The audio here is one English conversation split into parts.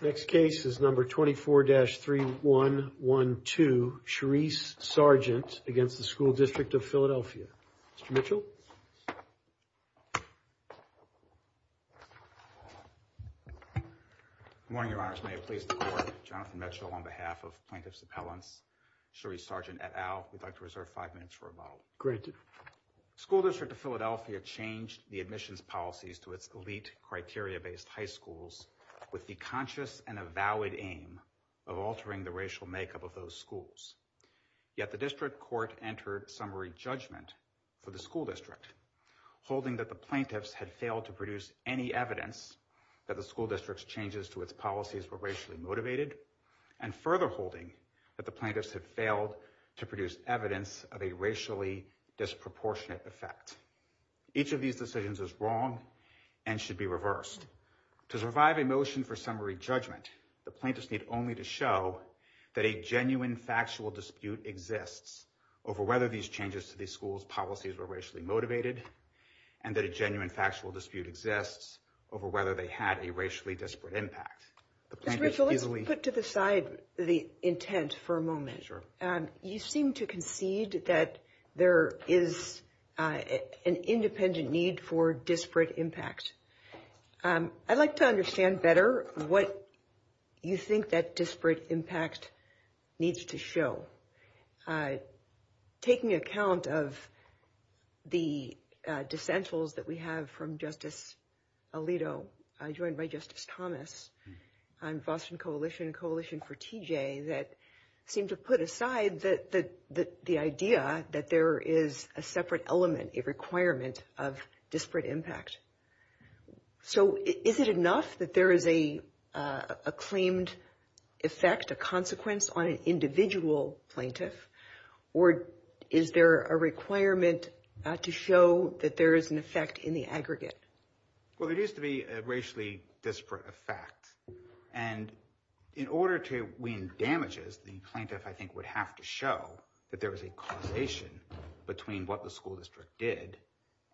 Next case is number 24-3112, Charice Sargent against the School District of Philadelphia. Mr. Mitchell. Good morning, Your Honor. May I please report, I'm Jonathan Mitchell on behalf of Plaintiff's Appellant Charice Sargent et al. We'd like to reserve five minutes for a vote. School District of Philadelphia changed the admissions policies to its elite criteria-based high schools with the conscious and a valid aim of altering the racial makeup of those schools. Yet the District Court entered summary judgment for the School District, holding that the plaintiffs had failed to produce any evidence that the School District's changes to its policies were racially motivated, and further holding that the plaintiffs had failed to produce evidence of a racially disproportionate effect. Each of these decisions is wrong and should be reversed. To survive a motion for summary judgment, the plaintiffs need only to show that a genuine factual dispute exists over whether these changes to these schools' policies were racially motivated and that a genuine factual dispute exists over whether they had a racially disparate impact. Let's put to the side the intent for a moment. You seem to concede that there is an independent need for disparate impact. I'd like to understand better what you think that disparate impact needs to show. Taking account of the dissentials that we have from Justice Alito, joined by Justice Thomas on the Boston Coalition and Coalition for TJ, that seem to put aside the idea that there is a separate element, a requirement, of disparate impact. So is it enough that there is a claimed effect, a consequence, on an individual plaintiff, or is there a requirement to show that there is an effect in the aggregate? Well, there used to be a racially disparate effect, and in order to win damages, the plaintiff, I think, would have to show that there was a correlation between what the school district did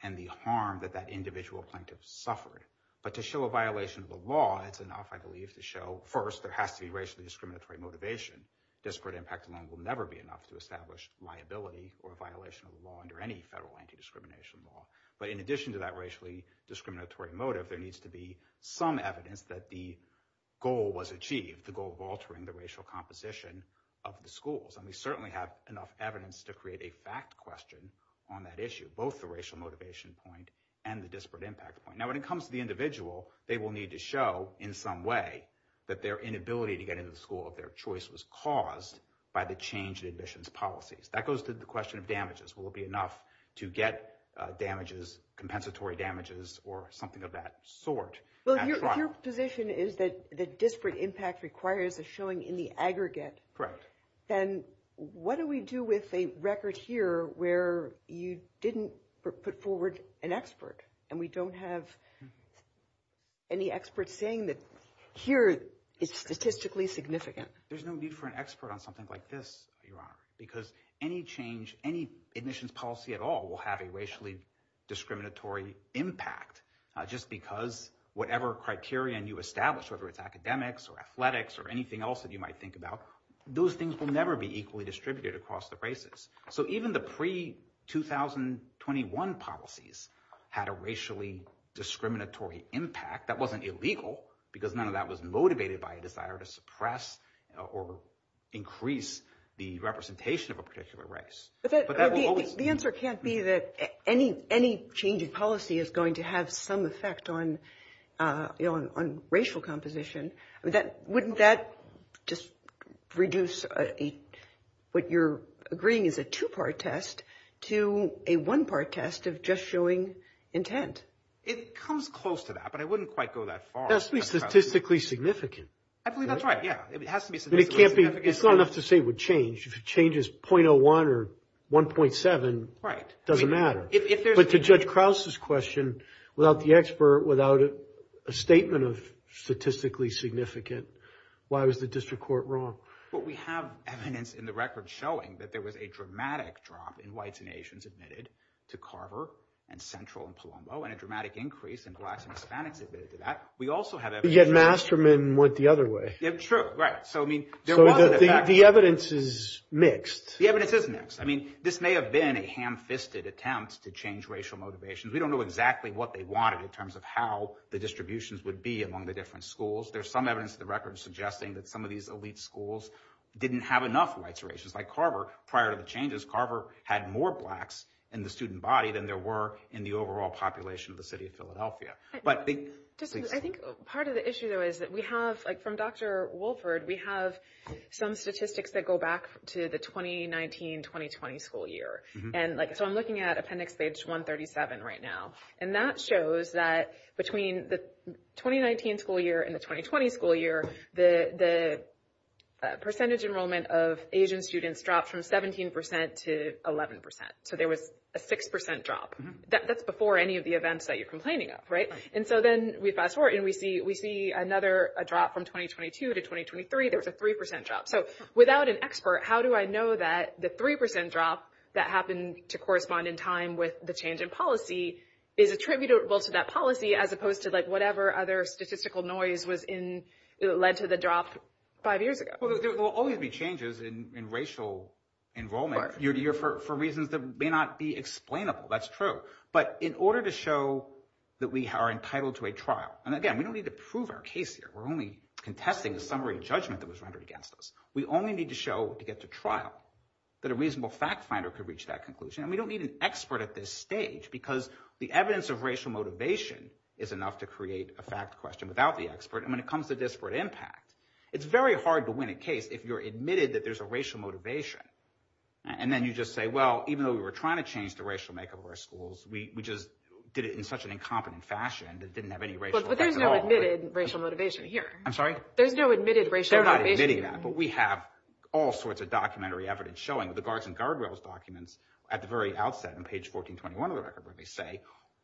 and the harm that that individual plaintiff suffered. But to show a violation of the law, it's enough, I believe, to show, first, there has to be racially discriminatory motivation. Disparate impact alone will never be enough to establish liability or violation of the law under any federal anti-discrimination law. But in addition to that racially discriminatory motive, there needs to be some evidence that the goal was achieved, the goal of altering the racial composition of the schools. And we certainly have enough evidence to create a fact question on that issue, both the racial motivation point and the disparate impact point. Now, when it comes to the individual, they will need to show, in some way, that their inability to get into the school of their choice was caused by the change in admissions policies. That goes to the question of damages. Will it be enough to get damages, compensatory damages, or something of that sort? Well, your position is that disparate impact requires a showing in the aggregate. Correct. And what do we do with a record here where you didn't put forward an expert, and we don't have any experts saying that here it's statistically significant? There's no need for an expert on something like this, Your Honor, because any change, any admissions policy at all will have a racially discriminatory impact, just because whatever criterion you establish, whether it's academics or athletics or anything else that you might think about, those things will never be equally distributed across the races. So even the pre-2021 policies had a racially discriminatory impact that wasn't illegal, because none of that was motivated by a desire to suppress or increase the representation of a particular race. But the answer can't be that any change in policy is going to have some effect on racial composition. Wouldn't that just reduce what you're agreeing is a two-part test to a one-part test of just showing intent? It comes close to that, but I wouldn't quite go that far. It has to be statistically significant. I believe that's right, yeah. It has to be statistically significant. It's not enough to say it would change. If it changes 0.01 or 1.7, it doesn't matter. But to Judge Krause's question, without the expert, without a statement of statistically significant, why was the district court wrong? Well, we have evidence in the record showing that there was a dramatic drop in whites and Asians admitted to Carver and Central and Palumbo and a dramatic increase in blacks and Hispanics admitted to that. Yet Masterman went the other way. True, right. So the evidence is mixed. The evidence is mixed. I mean, this may have been a ham-fisted attempt to change racial motivations. We don't know exactly what they wanted in terms of how the distributions would be among the different schools. There's some evidence in the record suggesting that some of these elite schools didn't have enough whites or Asians. Like Carver, prior to the changes, Carver had more blacks in the student body than there were in the overall population of the city of Philadelphia. I think part of the issue though is that we have, like from Dr. Wolford, we have some statistics that go back to the 2019-2020 school year. And so I'm looking at appendix page 137 right now. And that shows that between the 2019 school year and the 2020 school year, the percentage enrollment of Asian students dropped from 17% to 11%. So there was a 6% drop. That's before any of the events that you're complaining of, right? And so then we fast forward and we see another drop from 2022 to 2023. There was a 3% drop. So without an expert, how do I know that the 3% drop that happened to correspond in time with the change in policy is attributable to that policy as opposed to like whatever other statistical noise was in that led to the drop five years ago? Well, there will always be changes in racial enrollment for reasons that may not be explainable. That's true. But in order to show that we are entitled to a trial, and again, we don't need to prove our case here. We're only contesting the summary judgment that was rendered against us. We only need to show to get to trial that a reasonable fact finder could reach that conclusion. And we don't need an expert at this stage because the evidence of racial motivation is enough to create a fact question without the expert. And when it comes to disparate impact, it's very hard to win a case if you're admitted that there's a racial motivation. And then you just say, well, even though we were trying to change the racial makeup of our schools, we just did it in such an incompetent fashion that didn't have any racial motivation. But there's no admitted racial motivation here. I'm sorry? There's no admitted racial motivation. They're not admitting that, but we have all sorts of documentary evidence showing the guards and guardrails documents at the very outset on page 1421 of the record where they say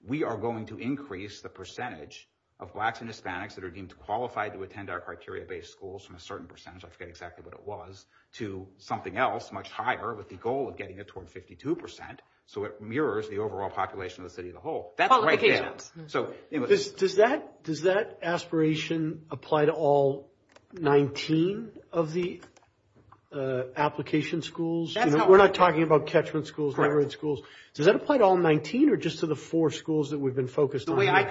we are going to increase the percentage of blacks and Hispanics that are deemed qualified to attend our criteria-based schools from a certain percentage, I forget exactly what it was, to something else much higher with the goal of getting it toward 52 percent. So it mirrors the overall population of the city as a whole. That's what we're looking at. Does that aspiration apply to all 19 of the application schools? We're not talking about catchment schools, learning schools. Does that apply to all 19 or just to the four schools that we've been focused on? The way I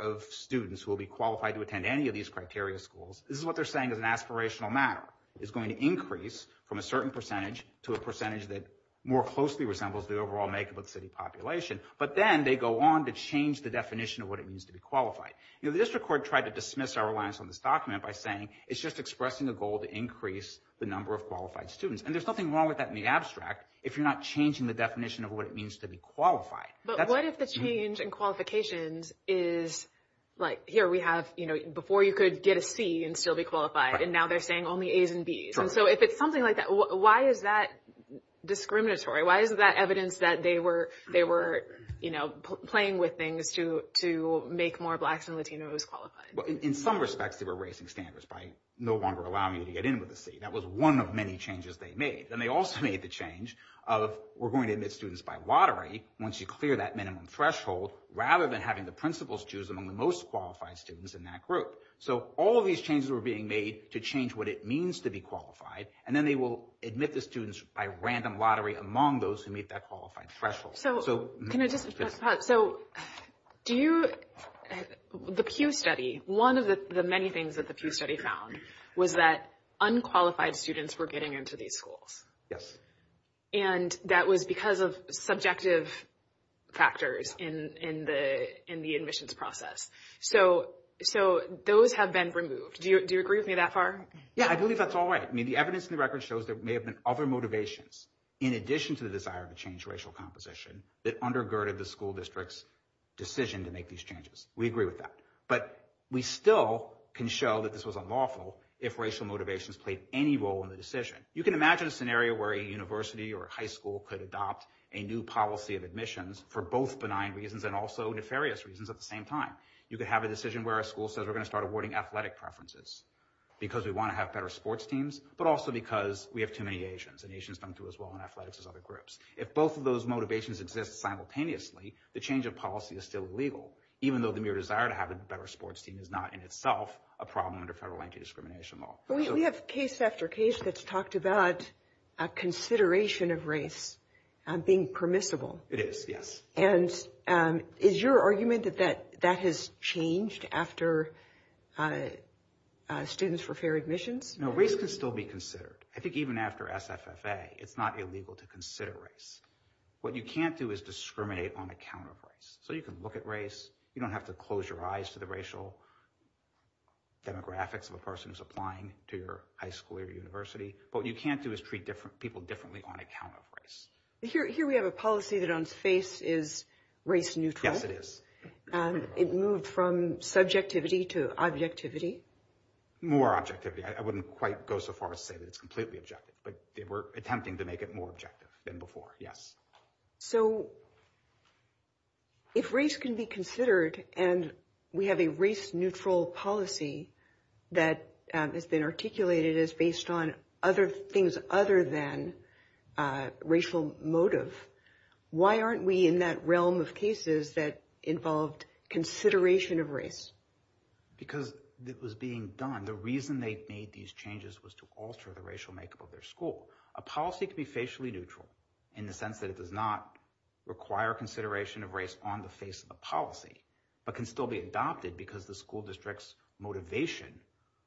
of students who will be qualified to attend any of these criteria schools, this is what they're saying is an aspirational matter. It's going to increase from a certain percentage to a percentage that more closely resembles the overall makeup of the city population. But then they go on to change the definition of what it means to be qualified. The district court tried to dismiss our reliance on this document by saying it's just expressing the goal to increase the number of qualified students. And there's nothing wrong with that in the abstract if you're not changing the definition of what it means to be qualified. But what if the change in qualifications is like here we have, you know, before you could get a C and still be qualified, and now they're saying only A's and B's. And so if it's something like that, why is that discriminatory? Why is that evidence that they were, you know, playing with things to make more blacks and Latinos qualified? Well, in some respects they were raising standards by no longer allowing you to get in with a C. That was one of many changes they made. And they also made the change of we're going to admit students by lottery once you clear that minimum threshold rather than having the principals choose among the most qualified students in that group. So all of these changes were being made to change what it means to be qualified. And then they will admit the students by random lottery among those who meet that qualified threshold. So can I just ask a thought? So do you – the Pew study, one of the many things that the Pew study found was that unqualified students were getting into these schools. And that was because of subjective factors in the admissions process. So those have been removed. Do you agree with me that far? Yeah, I believe that's all right. I mean, the evidence in the record shows there may have been other motivations in addition to the desire to change racial composition that undergirded the school district's decision to make these changes. We agree with that. But we still can show that this was unlawful if racial motivations played any role in the decision. You can imagine a scenario where a university or a high school could adopt a new policy of admissions for both benign reasons and also nefarious reasons at the same time. You could have a decision where a school says we're going to start awarding athletic preferences because we want to have better sports teams, but also because we have too many Asians, and Asians don't do as well in athletics as other groups. If both of those motivations exist simultaneously, the change of policy is still legal, even though the mere desire to have a better sports team is not in itself a problem under federal anti-discrimination law. We have case after case that's talked about a consideration of race being permissible. It is, yes. And is your argument that that has changed after students for fair admissions? No, race can still be considered. I think even after SFFA, it's not illegal to consider race. What you can't do is discriminate on account of race. So you can look at race. You don't have to close your eyes to the racial demographics of a person who's applying to your high school or university. What you can't do is treat people differently on account of race. Here we have a policy that on face is race neutral. Yes, it is. It moved from subjectivity to objectivity. More objectivity. I wouldn't quite go so far as to say that it's completely objective, but they were attempting to make it more objective than before, yes. So if race can be considered and we have a race neutral policy that has been articulated as based on other things other than racial motive, why aren't we in that realm of cases that involved consideration of race? Because it was being done. The reason they made these changes was to alter the racial makeup of their school. A policy could be facially neutral in the sense that it does not require consideration of race on the face of the policy, but can still be adopted because the school district's motivation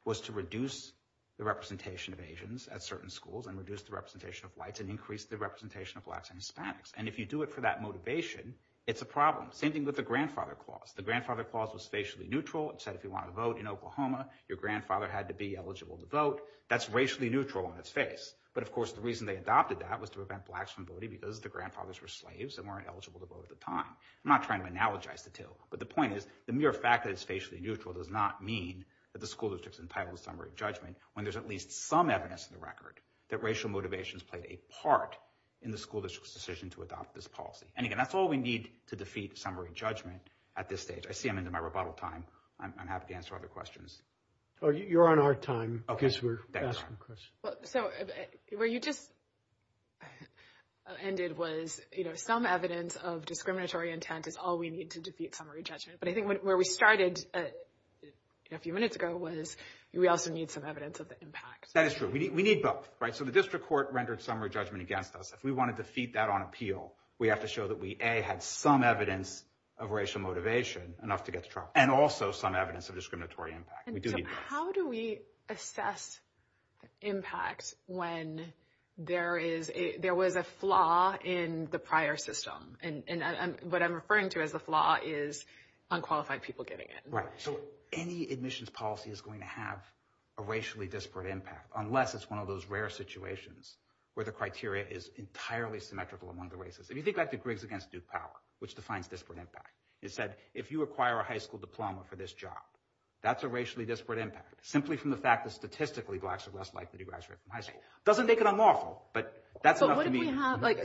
was to reduce the representation of Asians at certain schools and reduce the representation of whites and increase the representation of blacks and Hispanics. And if you do it for that motivation, it's a problem. Same thing with the grandfather clause. The grandfather clause was facially neutral. It said if you want to vote in Oklahoma, your grandfather had to be eligible to vote. That's racially neutral on its face. But of course, the reason they adopted that was to prevent blacks from voting because the grandfathers were slaves and weren't eligible to vote at the time. I'm not trying to analogize the two, but the point is the mere fact that it's facially neutral does not mean that the school district's entitled summary judgment when there's at least some evidence in the record that racial motivations played a part in the school district's decision to adopt this policy. And again, that's all we need to defeat summary judgment at this stage. I see I'm into my rebuttal time. I'm happy to answer other questions. You're on our time. I guess we're asking questions. So where you just ended was, you know, some evidence of discriminatory intent is all we need to defeat summary judgment. But I think where we started a few minutes ago was we also need some evidence of the impact. That is true. We need both. Right. So the district court rendered summary judgment against us. If we want to defeat that on appeal, we have to show that we A, had some evidence of racial motivation enough to get And so how do we assess impact when there was a flaw in the prior system? And what I'm referring to as a flaw is unqualified people getting it. Right. So any admissions policy is going to have a racially disparate impact, unless it's one of those rare situations where the criteria is entirely symmetrical among the races. If you think back to Griggs against Duke Powell, which defines disparate impact, it said if you acquire a high school diploma for this job, that's a racially disparate impact, simply from the fact that statistically blacks are less likely to graduate from high school. Doesn't make it unlawful, but that's enough to me.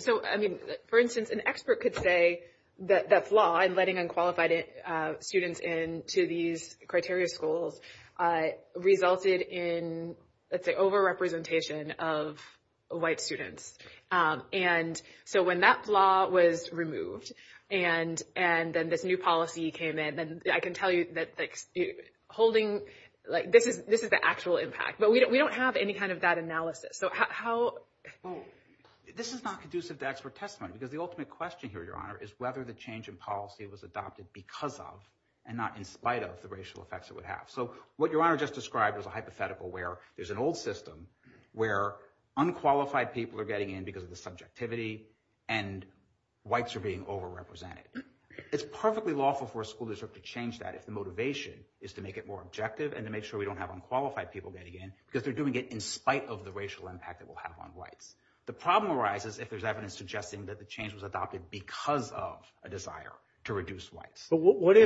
So I mean, for instance, an expert could say that that flaw in letting unqualified students into these criteria schools resulted in, let's say, over-representation of white students. And so when that flaw was removed and then this new policy came in, I can tell you that this is the actual impact. But we don't have any kind of that analysis. This is not conducive to expert testimony, because the ultimate question here, Your Honor, is whether the change in policy was adopted because of, and not in spite of, the racial effects it would have. So what Your Honor just described is a hypothetical where there's an old system where unqualified people are getting in because of the subjectivity and whites are being over-represented. It's perfectly lawful for a school district to change that if the motivation is to make it more objective and to make sure we don't have unqualified people getting in because they're doing it in spite of the racial impact it will have on whites. The problem arises if there's evidence suggesting that the change was adopted because of a desire to reduce whites. But what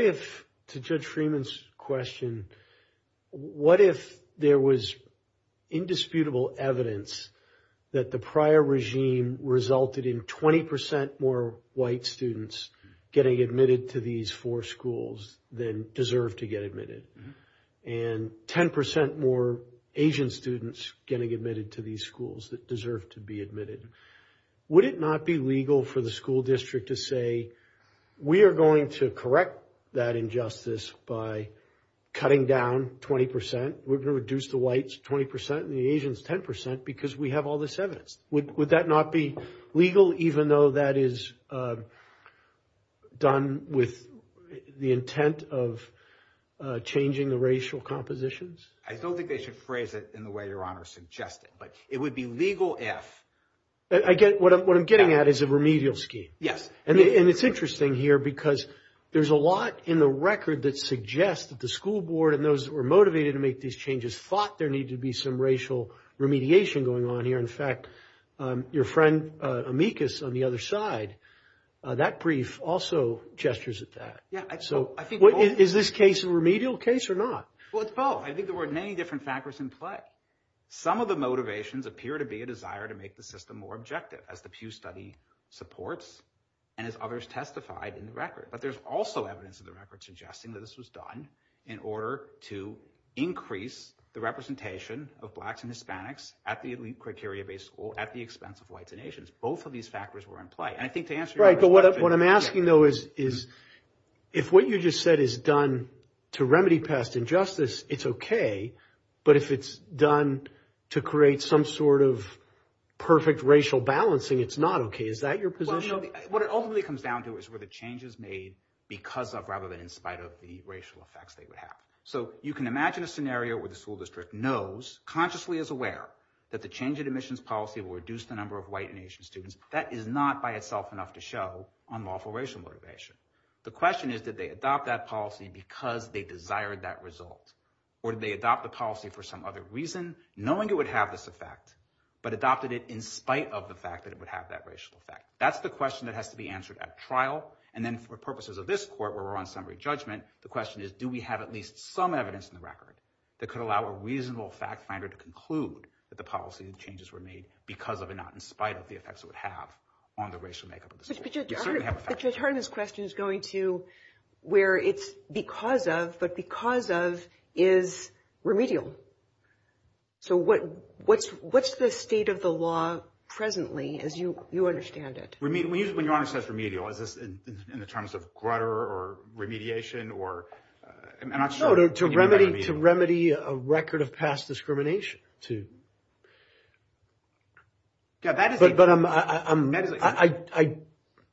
if, to Judge Freeman's question, what if there was indisputable evidence that the prior regime resulted in 20 percent more white students getting admitted to these four schools than deserve to get admitted, and 10 percent more Asian students getting admitted to these schools that deserve to be admitted? Would it not be legal for the school district to say, we are going to correct that injustice by cutting down 20 percent, we're going to reduce the whites 20 percent, and the Asians 10 percent because we have all this evidence? Would that not be legal even though that is done with the intent of changing the racial compositions? I don't think they should phrase it in the way Your Honor suggested, but it would be legal if... Again, what I'm getting at is a remedial scheme. Yes. And it's interesting here because there's a lot in the record that suggests that the school board and those that were motivated to make these changes thought there needed to be some racial remediation going on here. In fact, your friend, Amicus, on the other side, that brief also gestures at that. So is this case a remedial case or not? Well, it's both. I think there were many different factors in play. Some of the motivations appear to be a desire to make the system more objective as the Pew study supports and as others testified in the record. But there's also evidence in the record suggesting that this was done in order to increase the representation of blacks and Hispanics at the elite criteria-based school at the expense of whites and Asians. Both of these factors were in play. And I think to answer your question... Right, but what I'm asking though is if what you just said is done to remedy past injustice, it's okay. But if it's done to create some sort of perfect racial balancing, it's not okay. Is that your position? What it ultimately comes down to is where the change is made because of rather than in spite of the racial effects that you have. So you can imagine a scenario where the school district knows, consciously is aware, that the change in admissions policy will reduce the number of white and Asian students. That is not by itself enough to show unlawful racial motivation. The question is, did they adopt that policy because they desired that result? Or did they adopt the policy for some other reason, knowing it would have this effect, but adopted it in spite of the fact that it would have that racial effect? That's the question that has to be answered at trial. And then for purposes of this court where we're on summary judgment, the question is, do we have at least some evidence in the record that could allow a reasonable fact finder to conclude that the policy and changes were made because of and not in spite of the effects it would have on the racial makeup of the system? But your turn in this question is going to where it's but because of is remedial. So what's the state of the law presently as you understand it? When you say remedial, in terms of grutter or remediation or... To remedy a record of past discrimination. But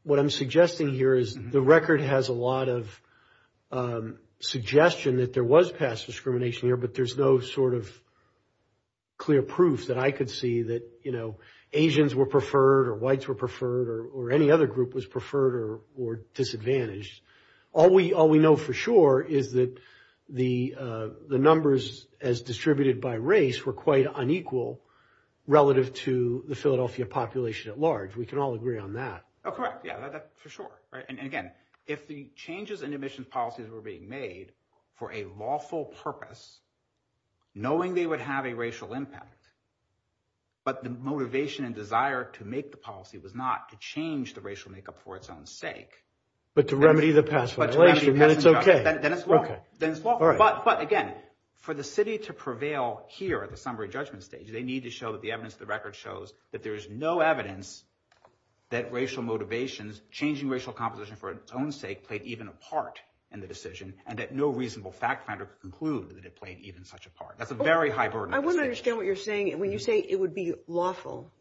what I'm suggesting here is the record has a lot of suggestion that there was past discrimination here, but there's no sort of clear proof that I could see that, you know, Asians were preferred or whites were preferred or any other group was preferred or disadvantaged. All we know for sure is that the numbers as distributed by race were quite unequal relative to the Philadelphia population at large. We can all agree on that. Oh, correct. Yeah, that's for sure. Right. And again, if the changes in admissions policies were being made for a lawful purpose, knowing they would have a racial impact, but the motivation and desire to make the policy was not to change the racial makeup for its own sake. But to remedy the past. Then it's okay. But again, for the city to prevail here at the summary judgment stage, they need to show that the evidence of the record shows that there is no evidence that racial motivations, changing racial composition for its own sake played even a part in the decision and that no reasonable fact finder could conclude that it played even such a part. That's a very high burden. I want to understand what you're saying. When you say it would be lawful,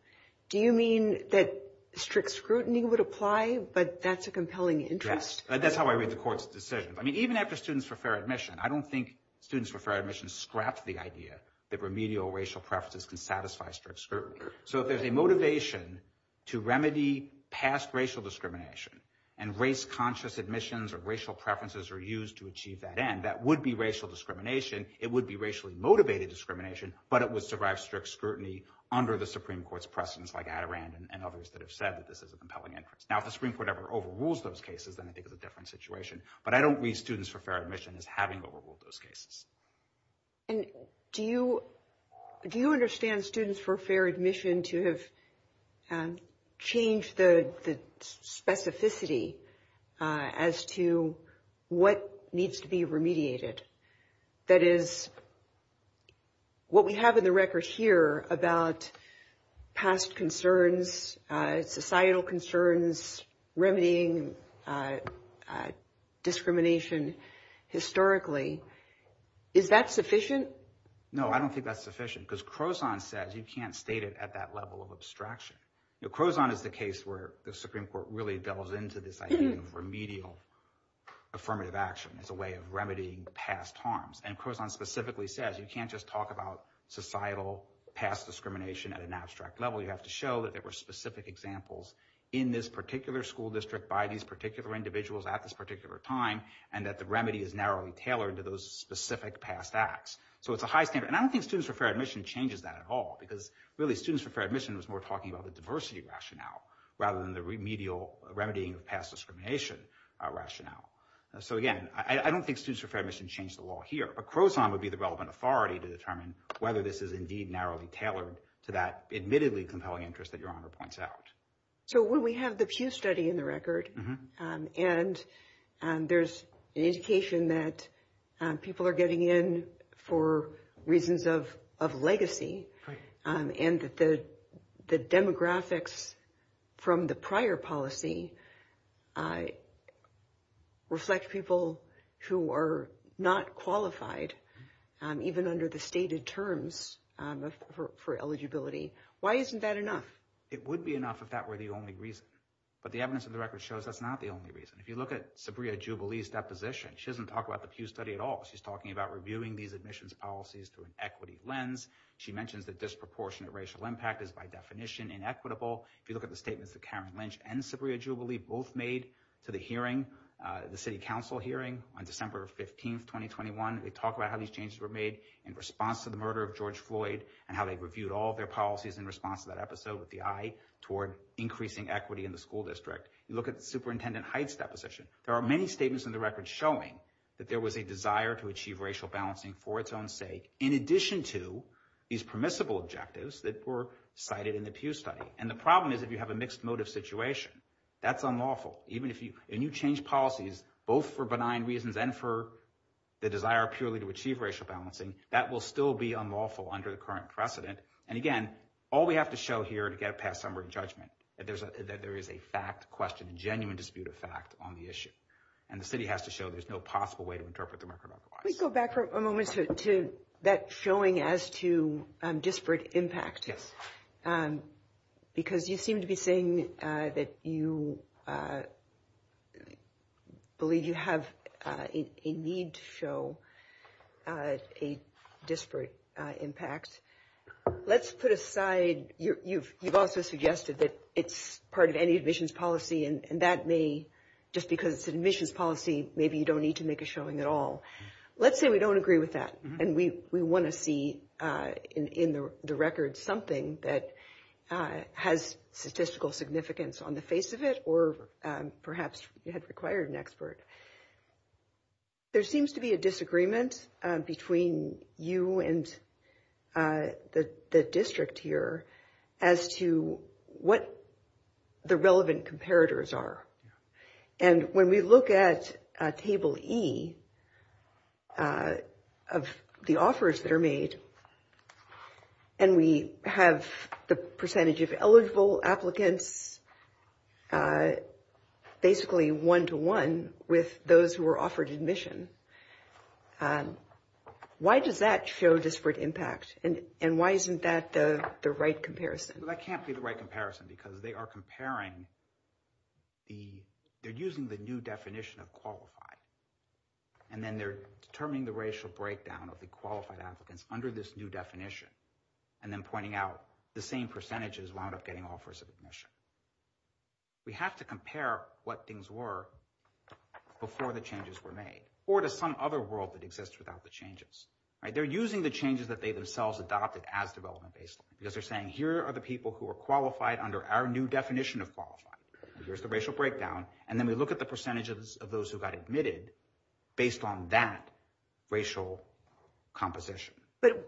do you mean that strict scrutiny would apply, but that's a compelling interest? That's how I read the court's decisions. I mean, even after students for fair admission, I don't think students for fair admission scraps the idea that remedial racial preferences can satisfy strict scrutiny. So if there's a motivation to remedy past racial discrimination and race conscious admissions or racial preferences are used to achieve that end, that would be racial discrimination. It would be racially motivated discrimination, but it would survive strict scrutiny under the Supreme Court's presence like Adirond and others that have said that this is a compelling interest. Now, if the Supreme Court ever overrules those cases, then I think it's a different situation, but I don't read students for fair admission as having overruled those cases. And do you understand students for fair admission to have changed the specificity as to what needs to be remediated? That is, what we have in the record here about past concerns, societal concerns, remedying discrimination historically. Is that sufficient? No, I don't think that's sufficient because Crozon says you can't state it at that level of abstraction. But Crozon is the case where the Supreme Court really delves into this idea of remedial affirmative action as a way of remedying past harms. And Crozon specifically says you can't just talk about societal past discrimination at an abstract level. You have to show that there were specific examples in this particular school district by these particular individuals at this particular time and that the remedy is narrowly tailored to those specific past acts. So it's a high standard. And I don't think students for fair admission changes that at all because really students for fair admission is more talking about the diversity rationale rather than the remedial remedying of past discrimination rationale. So again, I don't think students for fair admission change the law here. But Crozon would be the relevant authority to determine whether this is indeed narrowly tailored to that admittedly compelling interest that Your Honor points out. So when we have the Pew study in the record and there's an education that people are getting in for reasons of legacy and the demographics from the prior policy reflect people who are not qualified even under the stated terms for eligibility, why isn't that enough? It would be enough if that were the only reason. But the evidence of the record shows that's not the only reason. If you look at Sabria Jubilee's deposition, she doesn't talk about the Pew study at all. She's talking about reviewing these admissions policies through an equity lens. She mentioned the disproportionate racial impact is by definition inequitable. If you look at the statements of Karen Lynch and Sabria Jubilee, both made to the hearing, the city council hearing on December 15th, 2021, they talk about how these changes were made in response to the murder of George Floyd and how they reviewed all their policies in response to that episode with the eye toward increasing equity in the school district. You look at Superintendent Hyde's deposition, there are many statements in the record showing that there was a desire to achieve racial balancing for its own sake in addition to these permissible objectives that were cited in the Pew study. And the problem is if you have a mixed motive situation, that's unlawful. Even if you change policies, both for benign reasons and for the desire purely to achieve racial balancing, that will still be unlawful under the current precedent. And again, all we have to show here to get past number of judgment that there is a fact question, genuine dispute of fact on the issue. And the city has to show there's no possible way to interpret the record. Can we go back for a moment to that showing as to disparate impact? Because you seem to be saying that you believe you have a need to show a disparate impact. Let's put aside, you've also suggested that it's part of any admissions policy and that may, just because it's an admissions policy, maybe you don't need to make a showing at all. Let's say we don't agree with that. And we want to see in the record something that has statistical significance on the face of it, or perhaps it has required an expert. There seems to be a disagreement between you and the district here as to what the relevant comparators are. And when we look at table E of the offers that are made, and we have the percentage of eligible applicants, basically one-to-one with those who are offered admission, why does that show disparate impact? And why isn't that the right comparison? That can't be the right comparison because they are comparing, they're using the new definition of qualified. And then they're determining the racial breakdown of the qualified applicants under this new definition, and then pointing out the same percentages wound up getting offers of admission. We have to compare what things were before the changes were made, or to some other world that exists without the changes. They're using the changes that they themselves adopted as development-based, because they're saying, here are the people who are qualified under our new definition of qualified. Here's the racial breakdown. And then we look at the percentages of those who got admitted based on that racial composition.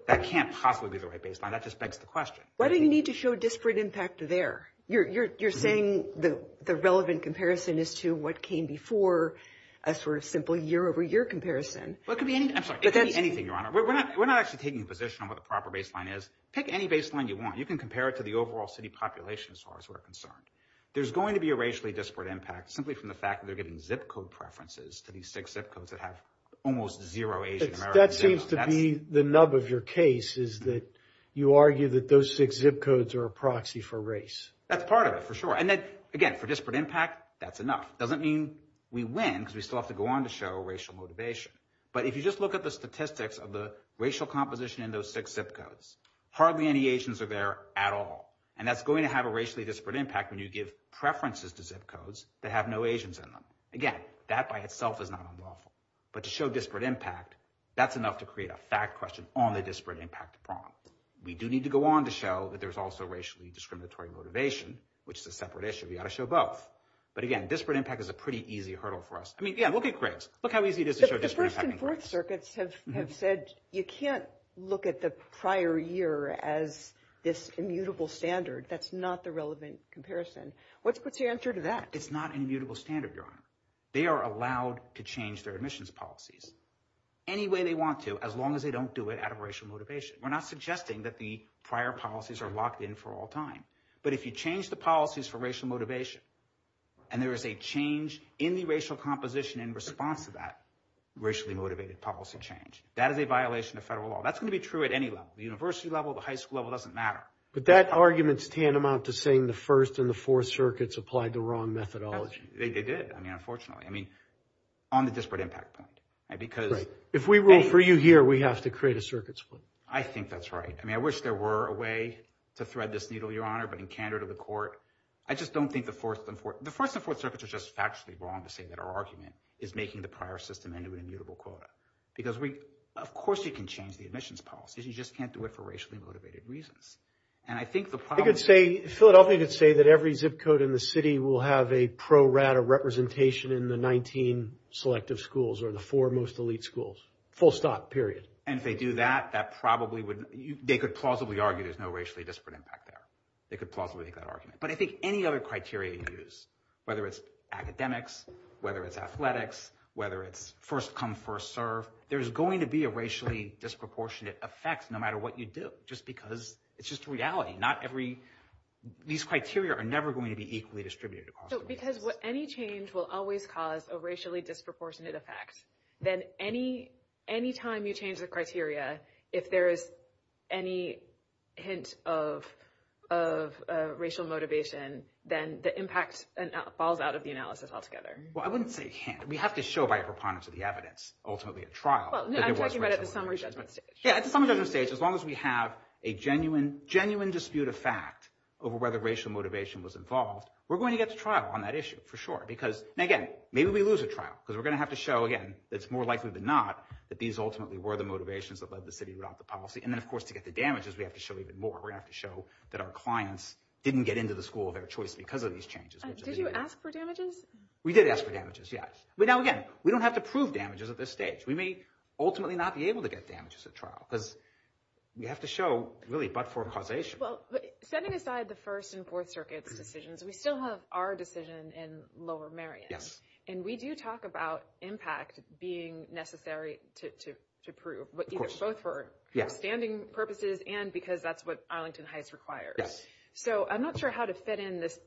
That can't possibly be the right baseline. That just begs the question. Why do you need to show disparate impact there? You're saying the relevant comparison is to what came before a sort of simple year-over-year comparison. Well, it could be anything, Your Honor. We're not actually taking a position on what the proper baseline you want. You can compare it to the overall city population as far as we're concerned. There's going to be a racially disparate impact simply from the fact that they're getting zip code preferences to these six zip codes that have almost zero Asian-American. That seems to be the nub of your case is that you argue that those six zip codes are a proxy for race. That's part of it, for sure. And again, for disparate impact, that's enough. Doesn't mean we win because we still have to go on to show racial motivation. But if you just look at the statistics of the racial composition in those six zip codes, hardly any Asians are there at all. And that's going to have a racially disparate impact when you give preferences to zip codes that have no Asians in them. Again, that by itself is not unlawful. But to show disparate impact, that's enough to create a fact question on the disparate impact problem. We do need to go on to show that there's also racially discriminatory motivation, which is a separate issue. We ought to show both. But again, disparate impact is a pretty easy hurdle for us. I mean, yeah, we'll get cribs. Look how easy it is to show disparate impact. The Second First Circuit has said you can't look at the prior year as this immutable standard. That's not the relevant comparison. What's your answer to that? It's not an immutable standard, Your Honor. They are allowed to change their emissions policies any way they want to, as long as they don't do it out of racial motivation. We're not suggesting that the prior policies are locked in for all time. But if you change the policies for racial change, that is a violation of federal law. That's going to be true at any level. The university level, the high school level, it doesn't matter. But that argument's tantamount to saying the First and the Fourth Circuits applied the wrong methodology. They did, unfortunately. I mean, on the disparate impact point. Right. If we rule for you here, we have to create a circuit. I think that's right. I mean, I wish there were a way to thread this needle, Your Honor, but in candor to the court, I just don't think the Fourth and Fourth. The Fourth and Fourth Circuits are just factually wrong to say that our argument is making the prior system into a mutable quota. Because, of course, you can change the emissions policies. You just can't do it for racially motivated reasons. And I think the problem is- I could say, Philadelphia could say that every zip code in the city will have a pro-rat or representation in the 19 selective schools or the four most elite schools. Full stop, period. And if they do that, that probably wouldn't- they could plausibly argue there's no racially disparate impact there. They could plausibly make that argument. But I think any other criteria you use, whether it's academics, whether it's athletics, whether it's first come, first serve, there's going to be a racially disproportionate effect no matter what you do, just because it's just a reality. Not every- these criteria are never going to be equally distributed. So because any change will always cause a racially disproportionate effect, then any time you change the criteria, if there is any hint of racial motivation, then the impact falls out of the analysis altogether. Well, I wouldn't say hint. We have to show by preponderance of the evidence, ultimately, a trial. Well, no, I'm talking about at the summary judgment stage. Yeah, at the summary judgment stage, as long as we have a genuine dispute of fact over whether racial motivation was involved, we're going to get to trial on that issue, for sure. Because, again, maybe we lose a trial. Because we're going to have to show, again, it's more likely than not that these ultimately were the motivations that led the city to adopt the policy. And then, of course, to get the damages, we have to show even more. We have to show that our clients didn't get into the school of their choice because of these changes. Did you ask for damages? We did ask for damages, yes. But now, again, we don't have to prove damages at this stage. We may ultimately not be able to get damages at trial. Because we have to show, really, but for causation. Well, setting aside the First and Fourth Circuit's decisions, we still have our decision in Lower Marion. And we do talk about impact being necessary to prove. Of course. Both for standing purposes and because that's what Arlington Heights requires. Yes. So I'm not sure how to fit in this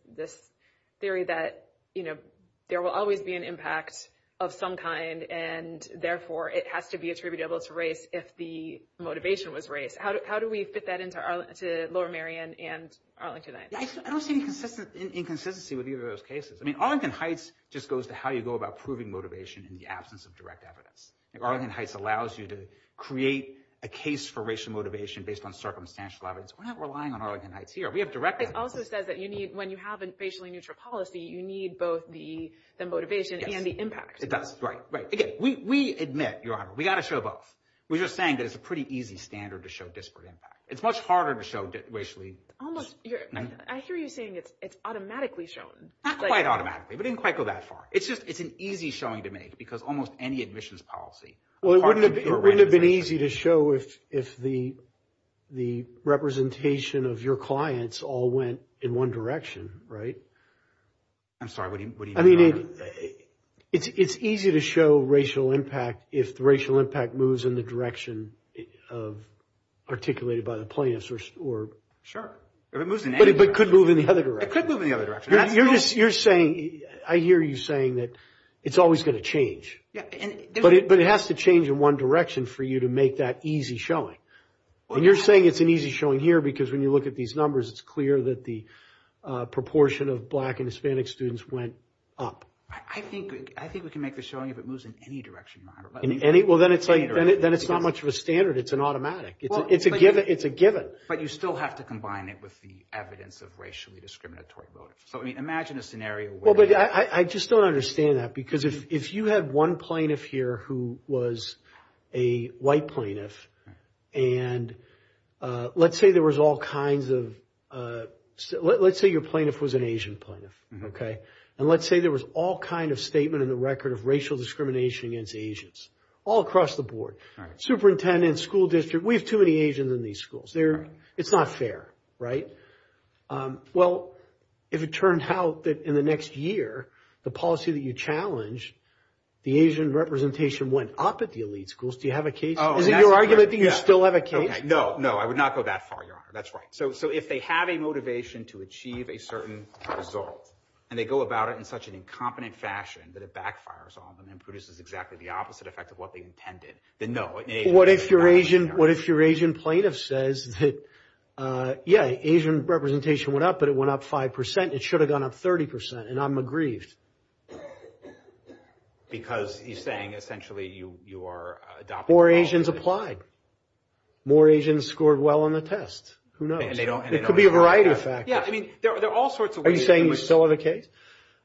theory that, you know, there will always be an impact of some kind. And therefore, it has to be attributed to race if the motivation was race. How do we fit that into Lower Marion and Arlington Heights? I don't see any inconsistency with either of those cases. I mean, Arlington Heights just goes to how you go about proving motivation in the absence of direct evidence. Arlington Heights allows you to create a case for racial motivation based on circumstantial evidence. We're not relying on Arlington Heights here. We have direct evidence. It also says that when you have a racially neutral policy, you need both the motivation and the impact. It does. Right. Right. Again, we admit, Your Honor, we've got to show both. We're just saying that it's a pretty easy standard to show disparate impact. It's much harder to show racially... Almost. I hear you saying it's automatically shown. Not quite automatically. We didn't quite go that far. It's an easy showing to make. Because almost any admissions policy... Well, it wouldn't have been easy to show if the representation of your clients all went in one direction, right? I'm sorry. What do you mean? I mean, it's easy to show racial impact if the racial impact moves in the direction of articulated by the plaintiffs or... Sure. It moves in any direction. But it could move in the other direction. It could move in the other direction. You're saying... I hear you saying that it's always going to change. But it has to change in one direction for you to make that easy showing. And you're saying it's an easy showing here because when you look at these numbers, it's clear that the proportion of black and Hispanic students went up. I think we can make a showing if it moves in any direction, Your Honor. In any? Well, then it's not much of a standard. It's an automatic. It's a given. But you still have to combine it with the evidence of racially discriminatory voting. Imagine a scenario where... Well, but I just don't understand that because if you have one plaintiff here who was a white plaintiff, and let's say there was all kinds of... Let's say your plaintiff was an Asian plaintiff, okay? And let's say there was all kind of statement in the record of racial discrimination against Asians all across the board. Superintendent, school district, we have too many Asians in these schools. It's not fair, right? Well, if it turns out that in the next year, the policy that you challenged, the Asian representation went up at the elite schools, do you have a case? Is it your argument that you still have a case? No, no, I would not go that far, Your Honor. That's right. So if they have a motivation to achieve a certain result, and they go about it in such an incompetent fashion that it backfires on them and produces exactly the opposite effect of what they intended, then no. What if your Asian plaintiff says that, yeah, Asian representation went up, but it went up 5%. It should have gone up 30%, and I'm aggrieved. Because he's saying, essentially, you are adopting... More Asians applied. More Asians scored well on the test. Who knows? It could be a variety of factors. Yeah, I mean, there are all sorts of ways... Are you saying you still have a case?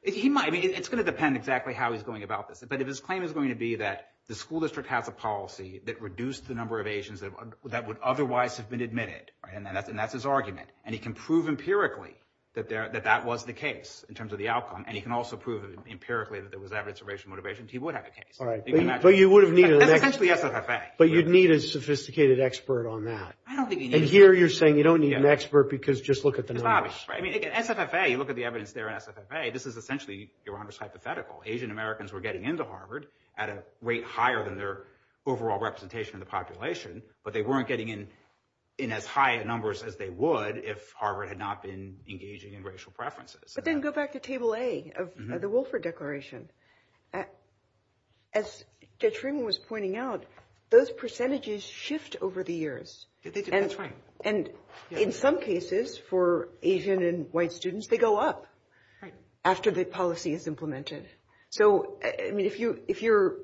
It's going to depend exactly how he's going about this. But if his claim is going to be that the school district has a policy that reduced the number of Asians that would otherwise have been admitted, and that's his argument, and he can prove empirically that that was the case in terms of the outcome, and he can also prove empirically that there was evidence of racial motivation, he would have a case. All right. But you would have needed an expert. But you'd need a sophisticated expert on that. I don't think you need an expert. And here you're saying you don't need an expert because just look at the numbers. I mean, at SFFA, you look at the evidence there at SFFA, this is essentially, Your Honor, hypothetical. Asian Americans were getting into Harvard at a rate higher than their overall representation in the population, but they weren't getting in as high numbers as they would if Harvard had not been engaging in racial preferences. But then go back to Table A of the Wolfer Declaration. As Judge Freeman was pointing out, those percentages shift over the years. And in some cases for Asian and white students, they go up after the policy is implemented. So, I mean, if you're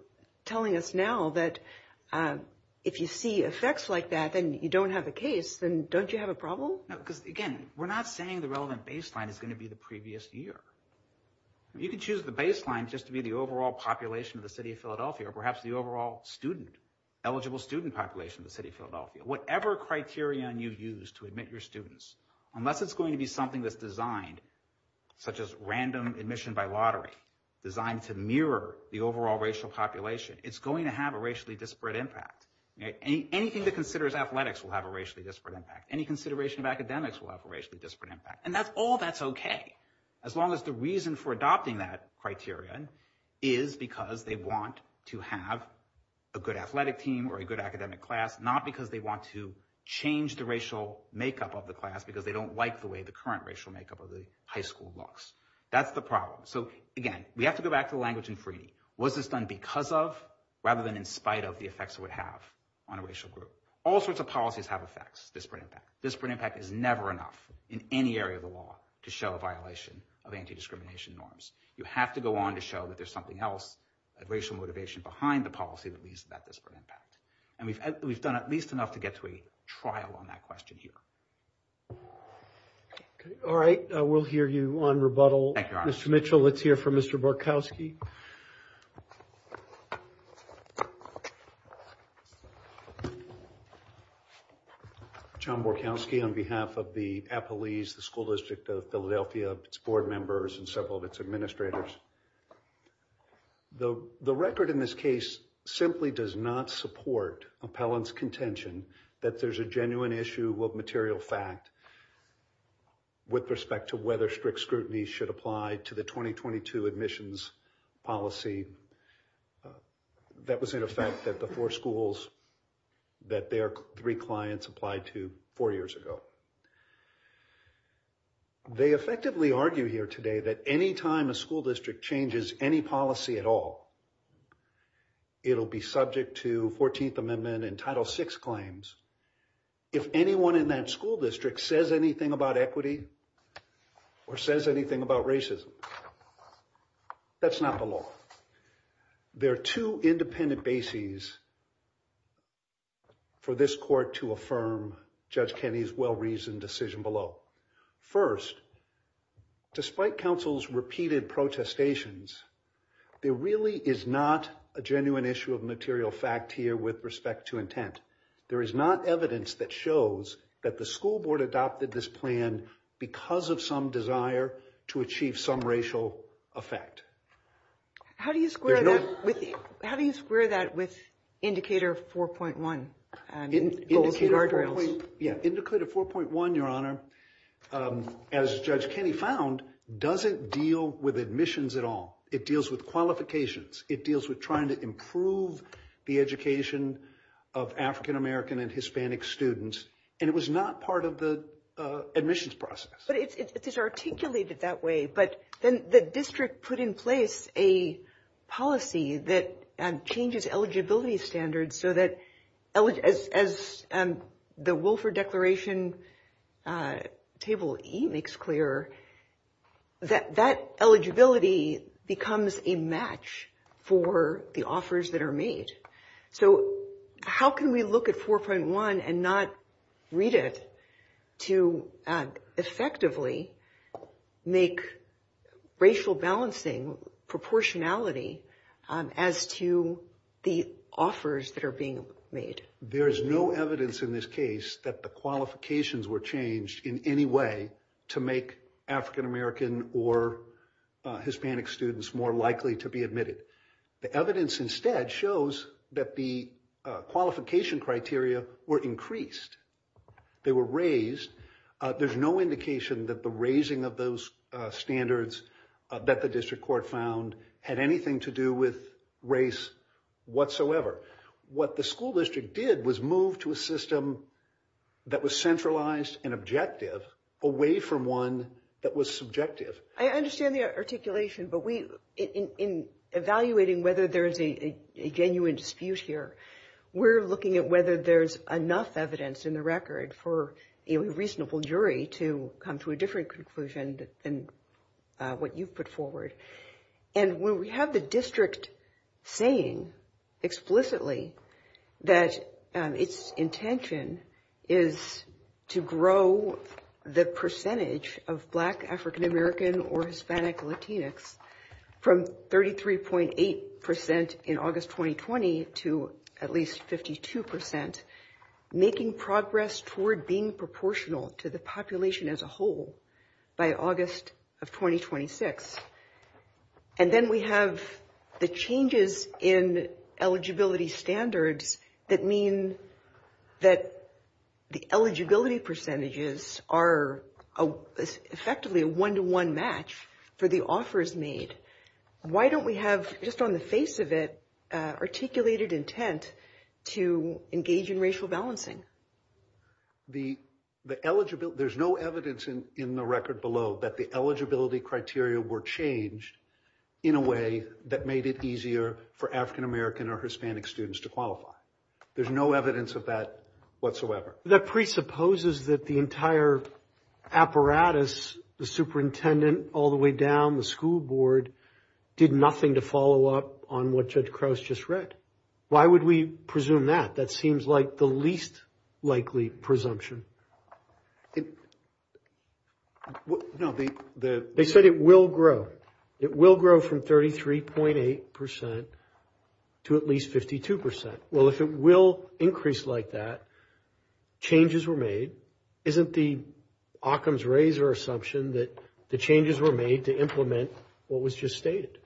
telling us now that if you see effects like that and you don't have a case, then don't you have a problem? No, because again, we're not saying the relevant baseline is going to be the previous year. You can choose the baseline just to be the overall population of the city of Philadelphia, or perhaps the overall student, eligible student population of the city of Philadelphia. Whatever criterion you use to admit your students, unless it's going to be something that's designed, such as random admission by lottery, designed to mirror the overall racial population, it's going to have a racially disparate impact. Anything that considers athletics will have a racially disparate impact. Any consideration of academics will have a racially disparate impact. And all that's okay, as long as the reason for adopting that criteria is because they want to have a good athletic team or a good academic class, not because they want to change the racial makeup of the class because they don't like the way the current racial makeup of the high school looks. That's the problem. So again, we have to go back to the language in Freedie. Was this done because of, rather than in spite of, the effects it would have on a racial group? All sorts of policies have effects, disparate impact. Disparate impact is never enough in any area of the law to show a violation of anti-discrimination norms. You have to go on to show that there's something else, a racial motivation behind the policy that leads to that disparate impact. And we've done at least enough to get to a trial on that question here. Okay, all right. We'll hear you on rebuttal. Mr. Mitchell, let's hear from Mr. Borkowski. John Borkowski on behalf of the Appellees, the School District of Philadelphia, its board members, and several of its administrators. The record in this case simply does not support appellant's contention that there's a genuine issue of material fact. With respect to whether strict scrutiny should apply to the 2022 admissions policy, that was in effect at the four schools that their three clients applied to four years ago. They effectively argue here today that any time a school district changes any policy at all, it'll be subject to 14th Amendment and Title VI claims. If anyone in that school district says anything about equity or says anything about racism, that's not the law. There are two independent bases for this court to affirm Judge Kenney's well-reasoned decision below. First, despite counsel's repeated protestations, there really is not a genuine issue of material fact here with respect to intent. There is not evidence that shows that the school board adopted this plan because of some desire to achieve some racial effect. How do you square that with Indicator 4.1? Yeah, Indicator 4.1, Your Honor, as Judge Kenney found, doesn't deal with admissions at all. It deals with qualifications. It deals with trying to improve the education of African-American and Hispanic students, and it was not part of the admissions process. But it is articulated that way, but then the district put in place a policy that changes eligibility standards so that as the Wolfer Declaration Table E makes clear, that eligibility becomes a match for the offers that are made. So how can we look at 4.1 and not read it to effectively make racial balancing proportionality as to the offers that are being made? There's no evidence in this case that the qualifications were changed in any way to make African-American or Hispanic students more likely to be admitted. The evidence instead shows that the qualification criteria were increased. They were raised. There's no indication that the raising of those standards that the district court found had anything to do with race whatsoever. What the school district did was move to a system that was centralized and objective away from one that was subjective. I understand the articulation, but in evaluating whether there is a genuine dispute here, we're looking at whether there's enough evidence in the record for a reasonable jury to come to a different conclusion than what you've put forward. And when we have the district saying explicitly that its intention is to grow the percentage of Black, African-American, or Hispanic Latinx from 33.8% in August 2020 to at least 52%, making progress toward being proportional to the population as a whole by August of 2026. And then we have the changes in eligibility standards that mean that the eligibility percentages are effectively a one-to-one match for the offers made. Why don't we have, just on the face of it, articulated intent to engage in racial balancing? There's no evidence in the record below that the eligibility criteria were changed in a way that made it easier for African-American or Hispanic students to qualify. There's no evidence of that whatsoever. That presupposes that the entire apparatus, the superintendent all the way down the school board, did nothing to follow up on what Judge Crouse just read. Why would we presume that? That seems like the least likely presumption. No, they said it will grow. It will grow from 33.8% to at least 52%. Well, if it will increase like that, changes were made. Isn't the Occam's razor assumption that the changes were made to implement what was just stated?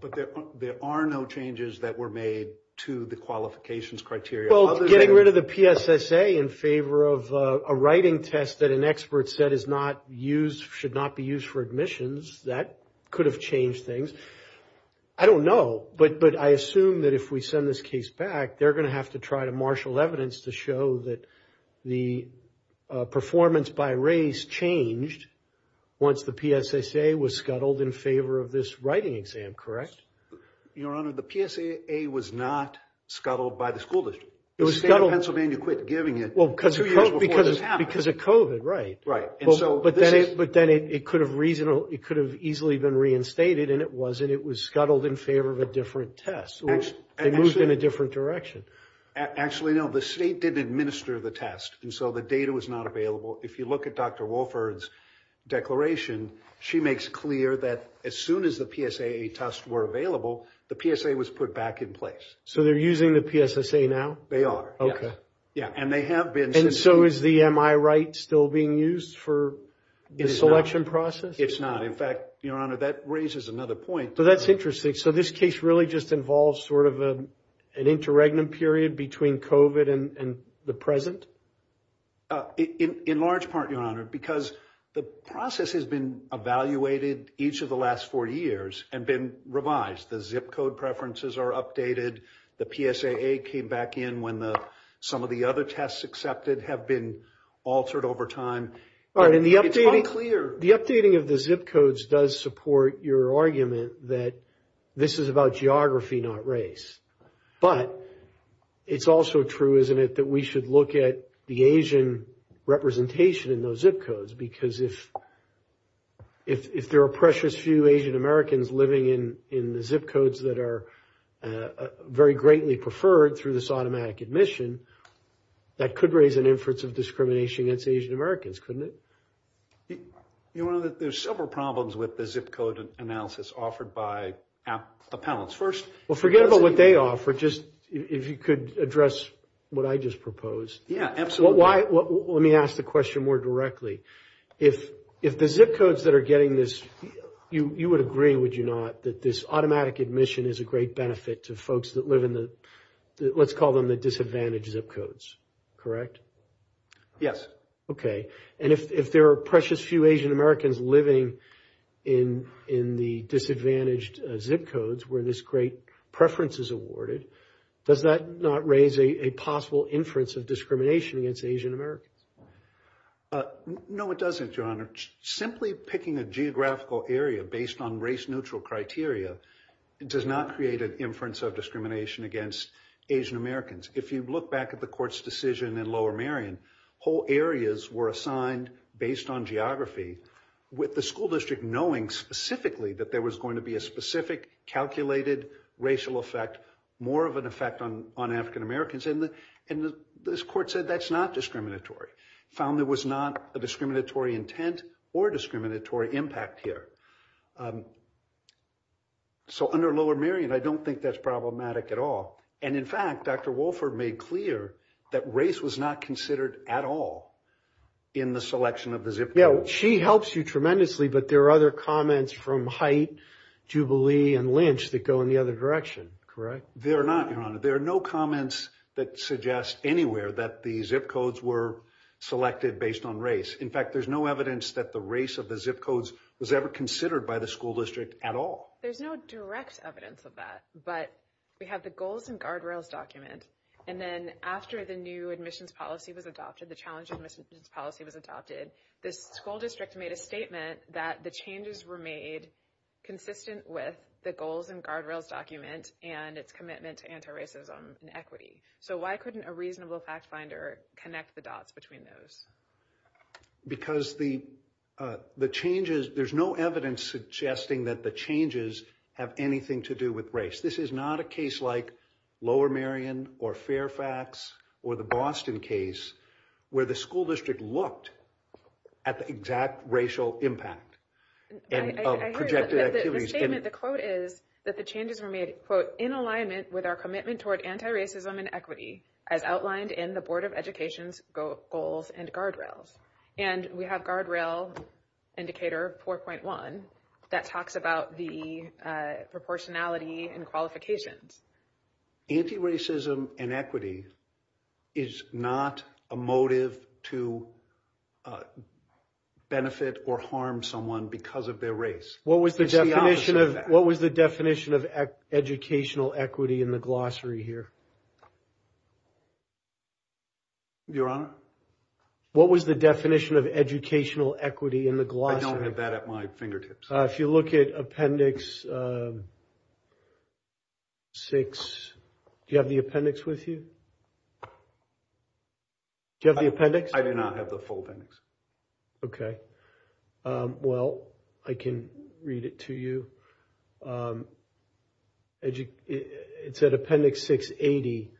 But there are no changes that were made to the qualifications criteria. Getting rid of the PSSA in favor of a writing test that an expert said should not be used for admissions, that could have changed things. I don't know, but I assume that if we send this case back, they're going to have to try to marshal evidence to show that the performance by race changed once the PSSA was scuttled in favor of this writing exam, correct? Your Honor, the PSSA was not scuttled by the school district. The state of Pennsylvania quit giving it. Because of COVID, right. But then it could have easily been reinstated, and it wasn't. It was scuttled in favor of a different test. It moved in a different direction. Actually, no, the state didn't administer the test, and so the data was not available. If you look at Dr. Wolford's declaration, she makes clear that as soon as the PSSA tests were available, the PSSA was put back in place. So they're using the PSSA now? They are. Yeah, and they have been since... And so is the MI right still being used for the selection process? It's not. In fact, Your Honor, that raises another point. So that's interesting. So this case really just involves sort of an interregnum period between COVID and the present? In large part, Your Honor, because the process has been evaluated each of the last four years and been revised. The zip code preferences are updated. The PSAA came back in when some of the other tests accepted have been altered over time. The updating of the zip codes does support your argument that this is about geography, not race. But it's also true, isn't it, that we should look at the Asian representation in those zip codes? Because if there are precious few Asian Americans living in the zip codes that are very greatly preferred through this automatic admission, that could raise an inference of discrimination against Asian Americans, couldn't it? There's several problems with the zip code analysis offered by appellants. First... Well, forget about what they offer. If you could address what I just proposed. Yeah, absolutely. Let me ask the question more directly. If the zip codes that are getting this, you would agree, would you not, that this automatic admission is a great benefit to folks that live in the, let's call them the disadvantaged zip codes, correct? Yes. Okay. And if there are precious few Asian Americans living in the disadvantaged zip codes where this great preference is awarded, does that not raise a possible inference of discrimination against Asian Americans? No, it doesn't, Your Honor. Simply picking a geographical area based on race neutral criteria does not create an inference of discrimination against Asian Americans. If you look back at the court's decision in Lower Marion, whole areas were assigned based on geography with the school district knowing specifically that there was going to be a specific calculated racial effect, more of an effect on African Americans. And this court said that's not discriminatory, found there was not a discriminatory intent or discriminatory impact here. So under Lower Marion, I don't think that's problematic at all. And in fact, Dr. Wolfer made clear that race was not considered at all in the selection of the zip code. Yeah, she helps you tremendously, but there are other comments from Haidt, Jubilee, and Lynch that go in the other direction, correct? They're not, Your Honor. There are no comments that suggest anywhere that the zip codes were selected based on race. In fact, there's no evidence that the race of the zip codes was ever considered by the school district at all. There's no direct evidence of that, but we have the goals and guardrails documents. And then after the new admissions policy was adopted, the challenge admissions policy was adopted, the school district made a statement that the changes were made consistent with the goals and guardrails document and its commitment to anti-racism and equity. So why couldn't a reasonable fact finder connect the dots between those? Because the changes, there's no evidence suggesting that the changes have anything to do with race. This is not a case like Lower Marion or Fairfax or the Boston case where the school district looked at the exact racial impact of projected activities. The statement, the quote is that the changes were made, quote, in alignment with our commitment toward anti-racism and equity as outlined in the Board of Education's goals and guardrails. And we have guardrail indicator 4.1 that talks about the proportionality and qualifications. Anti-racism and equity is not a motive to benefit or harm someone because of their race. What was the definition of educational equity in the glossary here? Your Honor? What was the definition of educational equity in the glossary? I don't have that at my fingertips. If you look at Appendix 6, do you have the appendix with you? Do you have the appendix? I do not have the full appendix. Okay. Well, I can read it to you. It's at Appendix 680.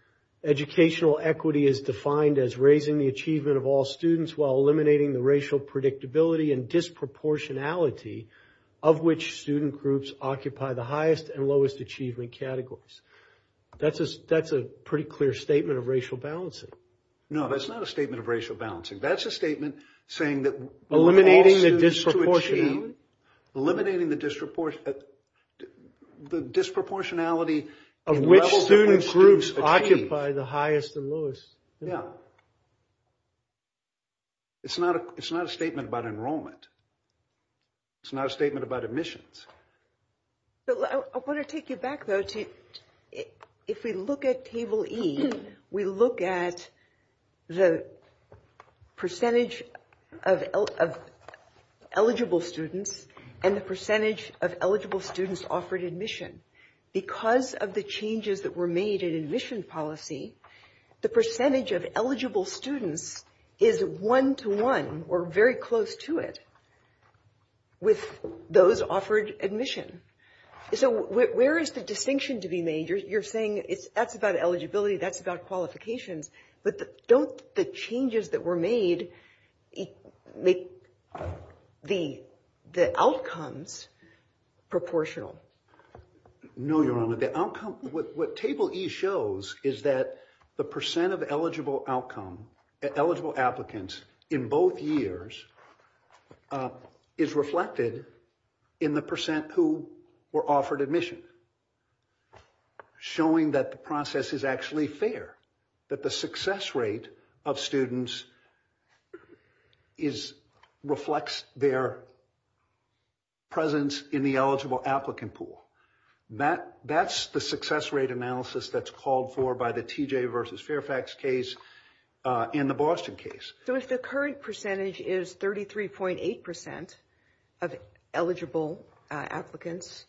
Educational equity is defined as raising the achievement of all students while eliminating the racial predictability and disproportionality of which student groups occupy the highest and lowest achievement categories. That's a pretty clear statement of racial balancing. No, that's not a statement of racial balancing. That's a statement saying that all students to achieve. Eliminating the disproportionality of which student groups occupy the highest and lowest. Yeah. It's not a statement about enrollment. It's not a statement about admissions. So, I want to take you back though to if we look at Table E, we look at the percentage of eligible students and the percentage of eligible students offered admission. Because of the changes that were made in admission policy, the percentage of eligible students is one to one or very close to it. With those offered admission. So, where is the distinction to be made? You're saying that's about eligibility, that's about qualifications. But don't the changes that were made make the outcomes proportional? No, Your Honor. What Table E shows is that the percent of eligible outcome, eligible applicants in both years is reflected in the percent who were offered admission. Showing that the process is actually fair. That the success rate of students reflects their presence in the eligible applicant pool. That's the success rate analysis that's called for by the TJ versus Fairfax case. In the Boston case. So, if the current percentage is 33.8 percent of eligible applicants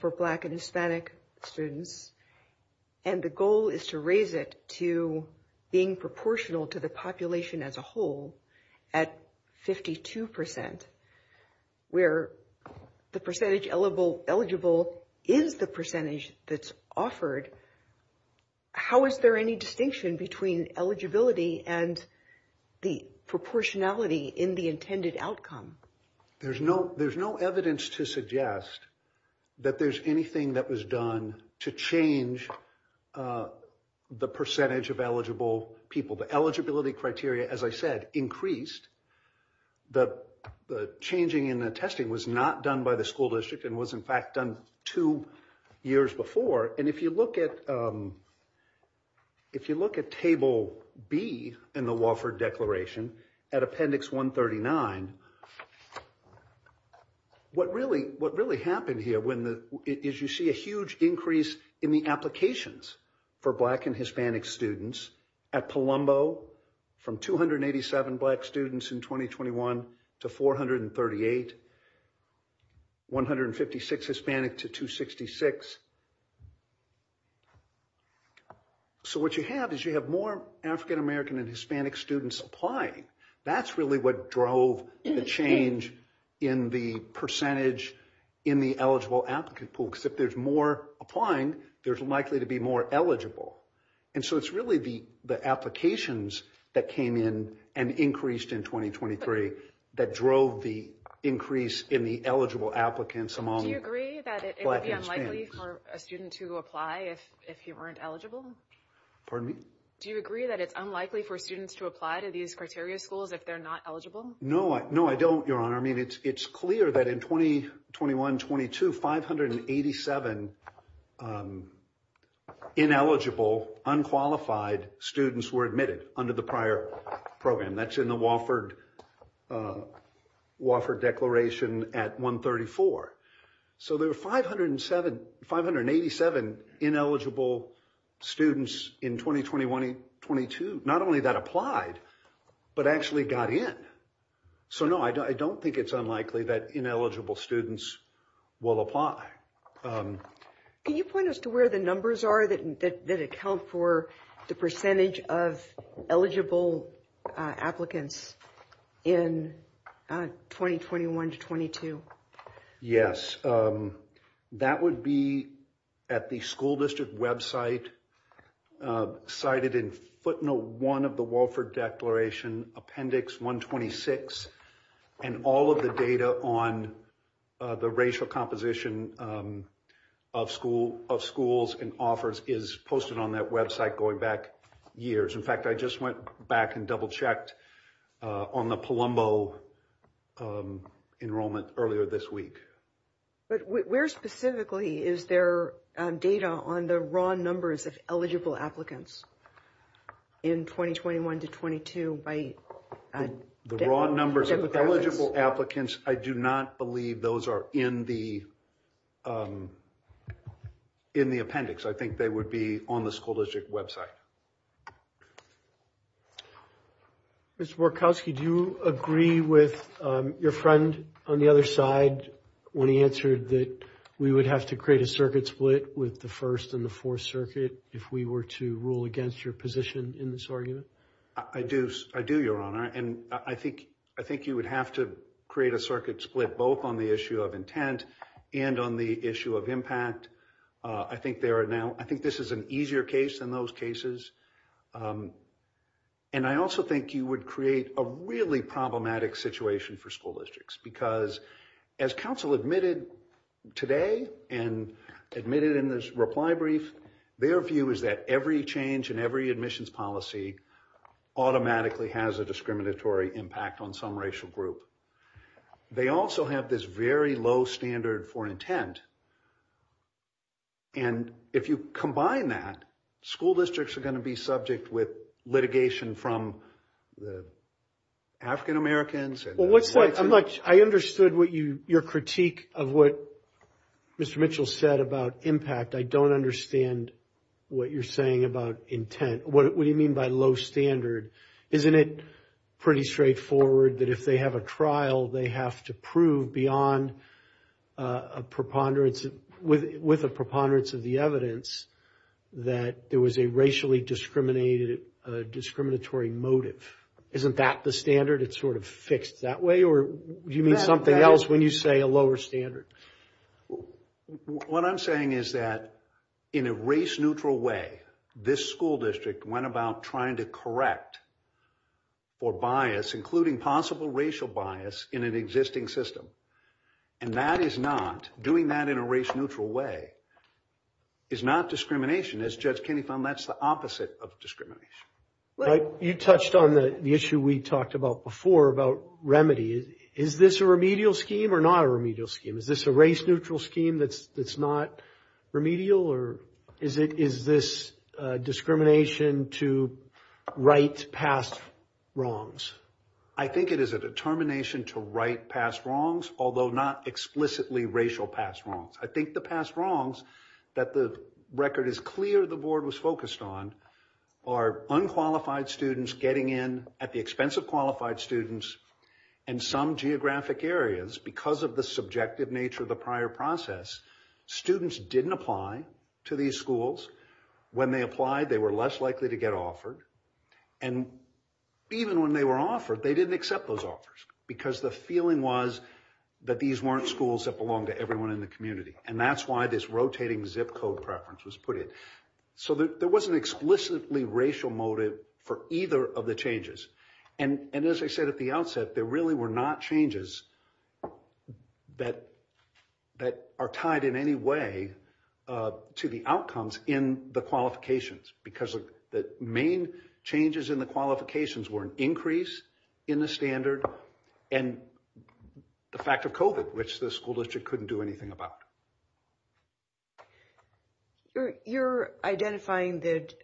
for Black and Hispanic students and the goal is to raise it to being proportional to the population as a whole at 52 percent, where the percentage eligible is the percentage that's offered, how is there any distinction between eligibility and the proportionality in the intended outcome? There's no evidence to suggest that there's anything that was done to change the percentage of eligible people. The eligibility criteria, as I said, increased. The changing in the testing was not done by the school district and was in fact done two years before. And if you look at Table B in the Wofford Declaration at Appendix 139, what really happened here is you see a huge increase in the applications for Black and Hispanic students at Palumbo from 287 Black students in 2021 to 438, 156 Hispanic to 266, 157 Black students. So, what you have is you have more African American and Hispanic students applying. That's really what drove the change in the percentage in the eligible applicant pool, because if there's more applying, there's likely to be more eligible. And so, it's really the applications that came in and increased in 2023 that drove the increase in the eligible applicants among Black and Hispanic. Do you agree that it would be unlikely for a student to apply if you weren't eligible? Pardon me? Do you agree that it's unlikely for students to apply to these criteria schools if they're not eligible? No, I don't, Your Honor. I mean, it's clear that in 2021-22, 587 ineligible, unqualified students were admitted under the prior program. That's in the Wofford Declaration at 134. So, there were 587 ineligible students in 2021-22. Not only that applied, but actually got in. So, no, I don't think it's unlikely that ineligible students will apply. Can you point us to where the numbers are that account for the percentage of eligible applicants in 2021-22? Yes, that would be at the school district website cited in footnote one of the Wofford Declaration, appendix 126. And all of the data on the racial composition of schools and offers is posted on that website going back years. In fact, I just went back and double checked on the Palumbo enrollment earlier this week. But where specifically is there data on the raw numbers of eligible applicants in 2021-22? The raw numbers of eligible applicants, I do not believe those are in the appendix. I think they would be on the school district website. Mr. Borkowski, do you agree with your friend on the other side when he answered that we would have to create a circuit split with the First and the Fourth Circuit if we were to rule against your position in this argument? I do, Your Honor. And I think you would have to create a circuit split both on the issue of intent and on the issue of impact. I think there are now, I think this is an easier case in those cases. And I also think you would create a really problematic situation for school districts because as counsel admitted today and admitted in this reply brief, their view is that every change in every admissions policy automatically has a discriminatory impact on some racial group. They also have this very low standard for intent. And if you combine that, school districts are going to be subject with litigation from the African-Americans and the whites and the... Well, I understood what you, your critique of what Mr. Mitchell said about impact. I don't understand what you're saying about intent. What do you mean by low standard? Isn't it pretty straightforward that if they have a trial, they have to prove beyond a with a preponderance of the evidence that there was a racially discriminatory motive. Isn't that the standard? It's sort of fixed that way? Or do you mean something else when you say a lower standard? What I'm saying is that in a race neutral way, this school district went about trying to correct or bias, including possible racial bias in an existing system. And that is not... Doing that in a race neutral way is not discrimination. As Judge Kinney found, that's the opposite of discrimination. You touched on the issue we talked about before about remedy. Is this a remedial scheme or not a remedial scheme? Is this a race neutral scheme that's not remedial or is this discrimination to right past wrongs? I think it is a determination to right past wrongs, although not explicitly racial past wrongs. I think the past wrongs that the record is clear the board was focused on are unqualified students getting in at the expense of qualified students in some geographic areas because of the subjective nature of the prior process. Students didn't apply to these schools. When they applied, they were less likely to get offered. And even when they were offered, they didn't accept those offers because the feeling was that these weren't schools that belong to everyone in the community. And that's why this rotating zip code preference was put in. So there wasn't explicitly racial motive for either of the changes. And as I said at the outset, there really were not changes that are tied in any way to the outcomes in the qualifications because the main changes in the qualifications were an increase in the standard and the fact of COVID, which the school district couldn't do anything about. You're identifying that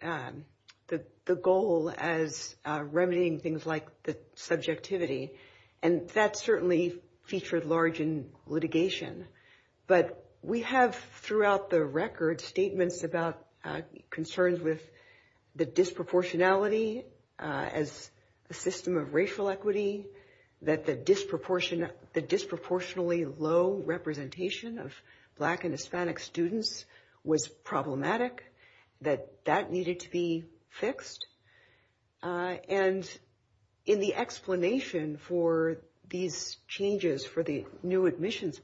the goal as remedying things like the subjectivity and that certainly featured large in litigation. But we have throughout the record statements about concerns with the disproportionality as a system of racial equity, that the disproportionately low representation of Black and Hispanic students was problematic, that that needed to be fixed. And in the explanation for these changes for the new admissions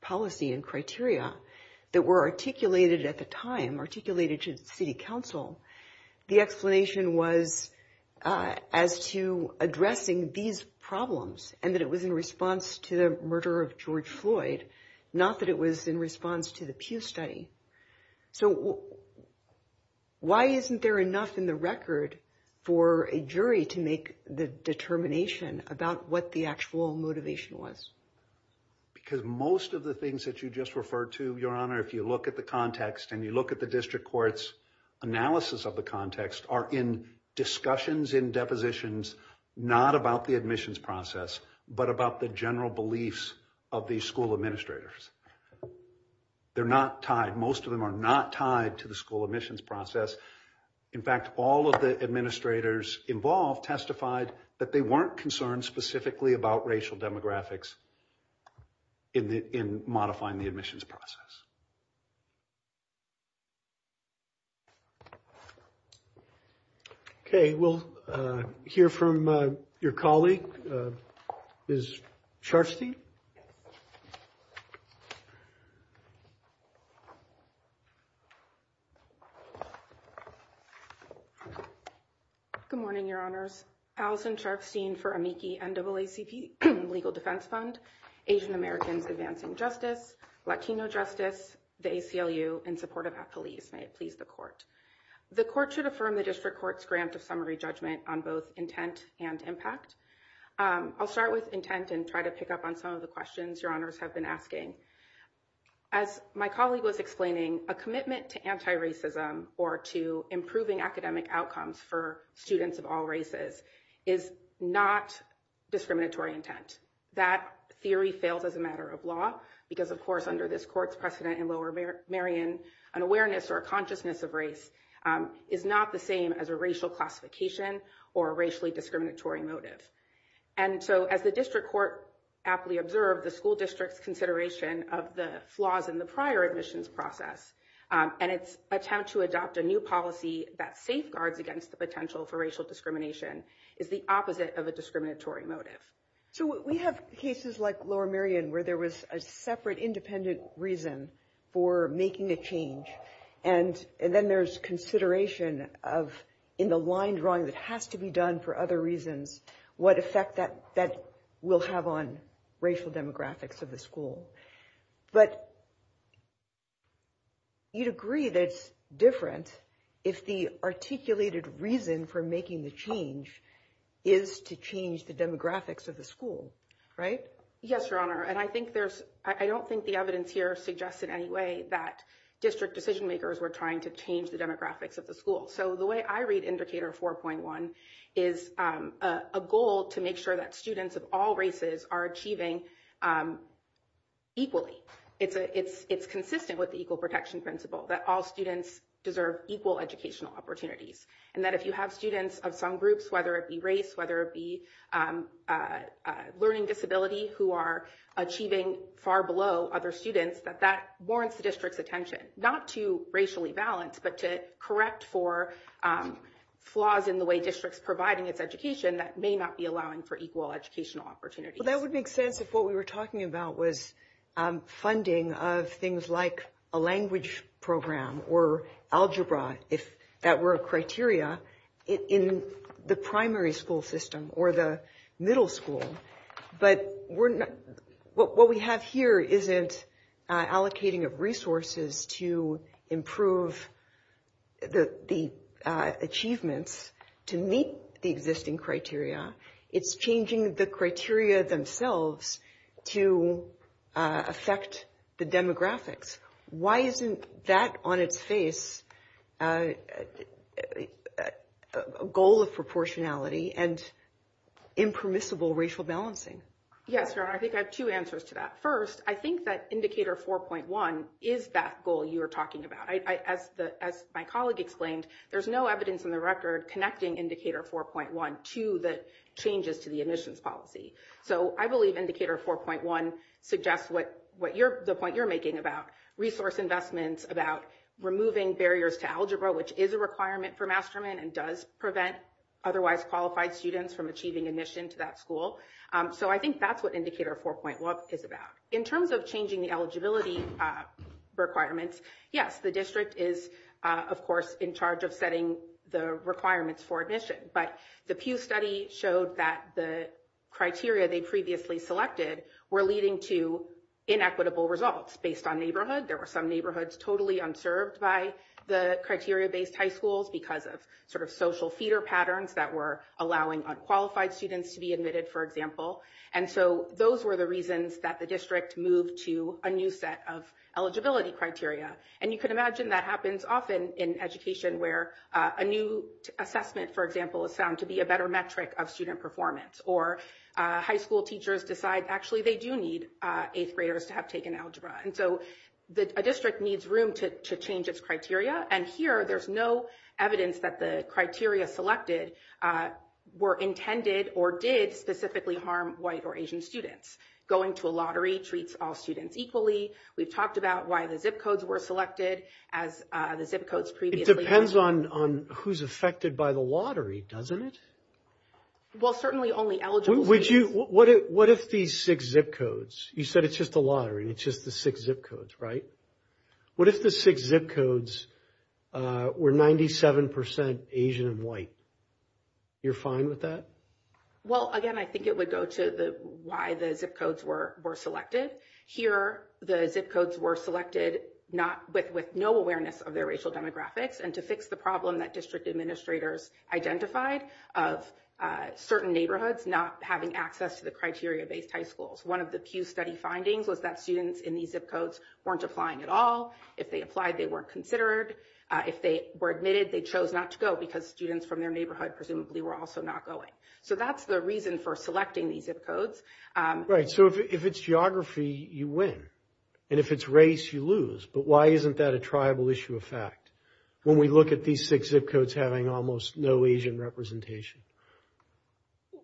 policy and criteria that were articulated at the time, articulated to city council, the explanation was as to addressing these problems and that it was in response to the murder of George Floyd, not that it was in response to the Pew study. So why isn't there enough in the record for a jury to make the determination about what the actual motivation was? Because most of the things that you just referred to, Your Honor, if you look at the context and you look at the district court's analysis of the context are in discussions in depositions, not about the admissions process, but about the general beliefs of the school administrators. They're not tied. Most of them are not tied to the school admissions process. In fact, all of the administrators involved testified that they weren't concerned specifically about racial demographics in modifying the admissions process. Okay, we'll hear from your colleague, Ms. Sharfstein. MS. SHARFSTEIN Good morning, Your Honors. Allison Sharfstein for Amici NAACP Legal Defense Fund, Asian Americans Advancing Justice, Latino Justice, the ACLU, in support of ACLU. May it please the court. The court should affirm the district court's grant of summary judgment on both intent and impact. I'll start with intent and try to pick up on some of the questions Your Honors have been asking. As my colleague was explaining, a commitment to anti-racism or to improving academic outcomes for students of all races is not discriminatory intent. That theory failed as a matter of law because, of course, under this court's precedent in Lower Merion, an awareness or a consciousness of race is not the same as a racial classification or racially discriminatory motive. And so as the district court aptly observed, the school district's consideration of the flaws in the prior admissions process and its attempt to adopt a new policy that safeguards against the potential for racial discrimination is the opposite of a discriminatory motive. MS. SHARFSTEIN So we have cases like Lower Merion where there was a separate independent reason for making a change, and then there's consideration of in the line drawing that has to be done for other reasons, what effect that will have on racial demographics of the school. But you'd agree that it's different if the articulated reason for making the change is to change the demographics of the school, right? MS. TAYLOR Yes, Your Honor. And I think there's – I don't think the evidence here suggests in any way that district decision-makers were trying to change the demographics of the school. So the way I read Indicator 4.1 is a goal to make sure that students of all races are achieving equally. It's consistent with the equal protection principle that all students deserve equal educational opportunities. And that if you have students of some groups, whether it be race, whether it be learning disability who are achieving far below other students, that that warrants the district's – not to racially balance, but to correct for flaws in the way district's providing its education that may not be allowing for equal educational opportunities. MS. KAYESS So that would make sense if what we were talking about was funding of things like a language program or algebra, if that were a criteria, in the primary school system or the middle school. But what we have here isn't allocating of resources to improve the achievements to meet the existing criteria. It's changing the criteria themselves to affect the demographics. Why isn't that on its face a goal of proportionality and impermissible racial balancing? MS. O'MARRA Yes. I think I have two answers to that. First, I think that Indicator 4.1 is that goal you were talking about. As my colleague explained, there's no evidence in the record connecting Indicator 4.1 to the changes to the admissions policy. So I believe Indicator 4.1 suggests the point you're making about resource investments, about removing barriers to algebra, which is a requirement for mastermind and does prevent otherwise qualified students from achieving admission to that school. So I think that's what Indicator 4.1 is about. In terms of changing the eligibility requirements, yes, the district is, of course, in charge of setting the requirements for admission. But the Pew study showed that the criteria they previously selected were leading to inequitable results based on neighborhood. There were some neighborhoods totally unserved by the criteria-based high schools because of sort of social feeder patterns that were allowing unqualified students to be admitted, for example. And so those were the reasons that the district moved to a new set of eligibility criteria. And you can imagine that happens often in education where a new assessment, for example, is found to be a better metric of student performance. Or high school teachers decide actually they do need eighth graders to have taken algebra. And so a district needs room to change its criteria. And here there's no evidence that the criteria selected were intended or did specifically harm white or Asian students. Going to a lottery treats all students equally. We've talked about why the ZIP Codes were selected as the ZIP Codes previously. It depends on who's affected by the lottery, doesn't it? Well, certainly only eligible. Would you – what if the six ZIP Codes – you said it's just the lottery. It's just the six ZIP Codes, right? What if the six ZIP Codes were 97% Asian and white? You're fine with that? Well, again, I think it would go to why the ZIP Codes were selected. Here the ZIP Codes were selected not – with no awareness of their racial demographics. And to fix the problem that district administrators identified of certain neighborhoods not having access to the criteria-based high schools. One of the few study findings was that students in these ZIP Codes weren't applying at all. If they applied, they weren't considered. If they were admitted, they chose not to go because students from their neighborhood presumably were also not going. So that's the reason for selecting these ZIP Codes. Right. So if it's geography, you win. And if it's race, you lose. But why isn't that a tribal issue of fact when we look at these six ZIP Codes having almost no Asian representation?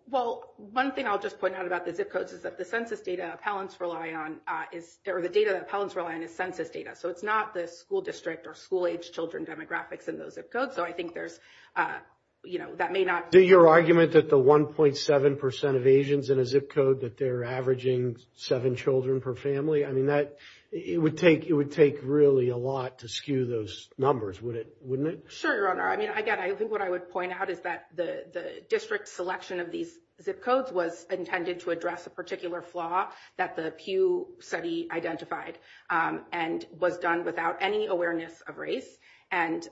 Well, one thing I'll just point out about the ZIP Codes is that the census data appellants rely on is – or the data that appellants rely on is census data. So it's not the school district or school-age children demographics in those ZIP Codes. So I think there's – that may not – Your argument that the 1.7 percent of Asians in a ZIP Code that they're averaging seven children per family, I mean, that – it would take – it would take really a lot to skew those numbers, wouldn't it? Sure, Your Honor. I mean, again, I think what I would point out is that the district selection of these ZIP Codes was intended to address a particular flaw that the Pew study identified and was done without any awareness of race. And,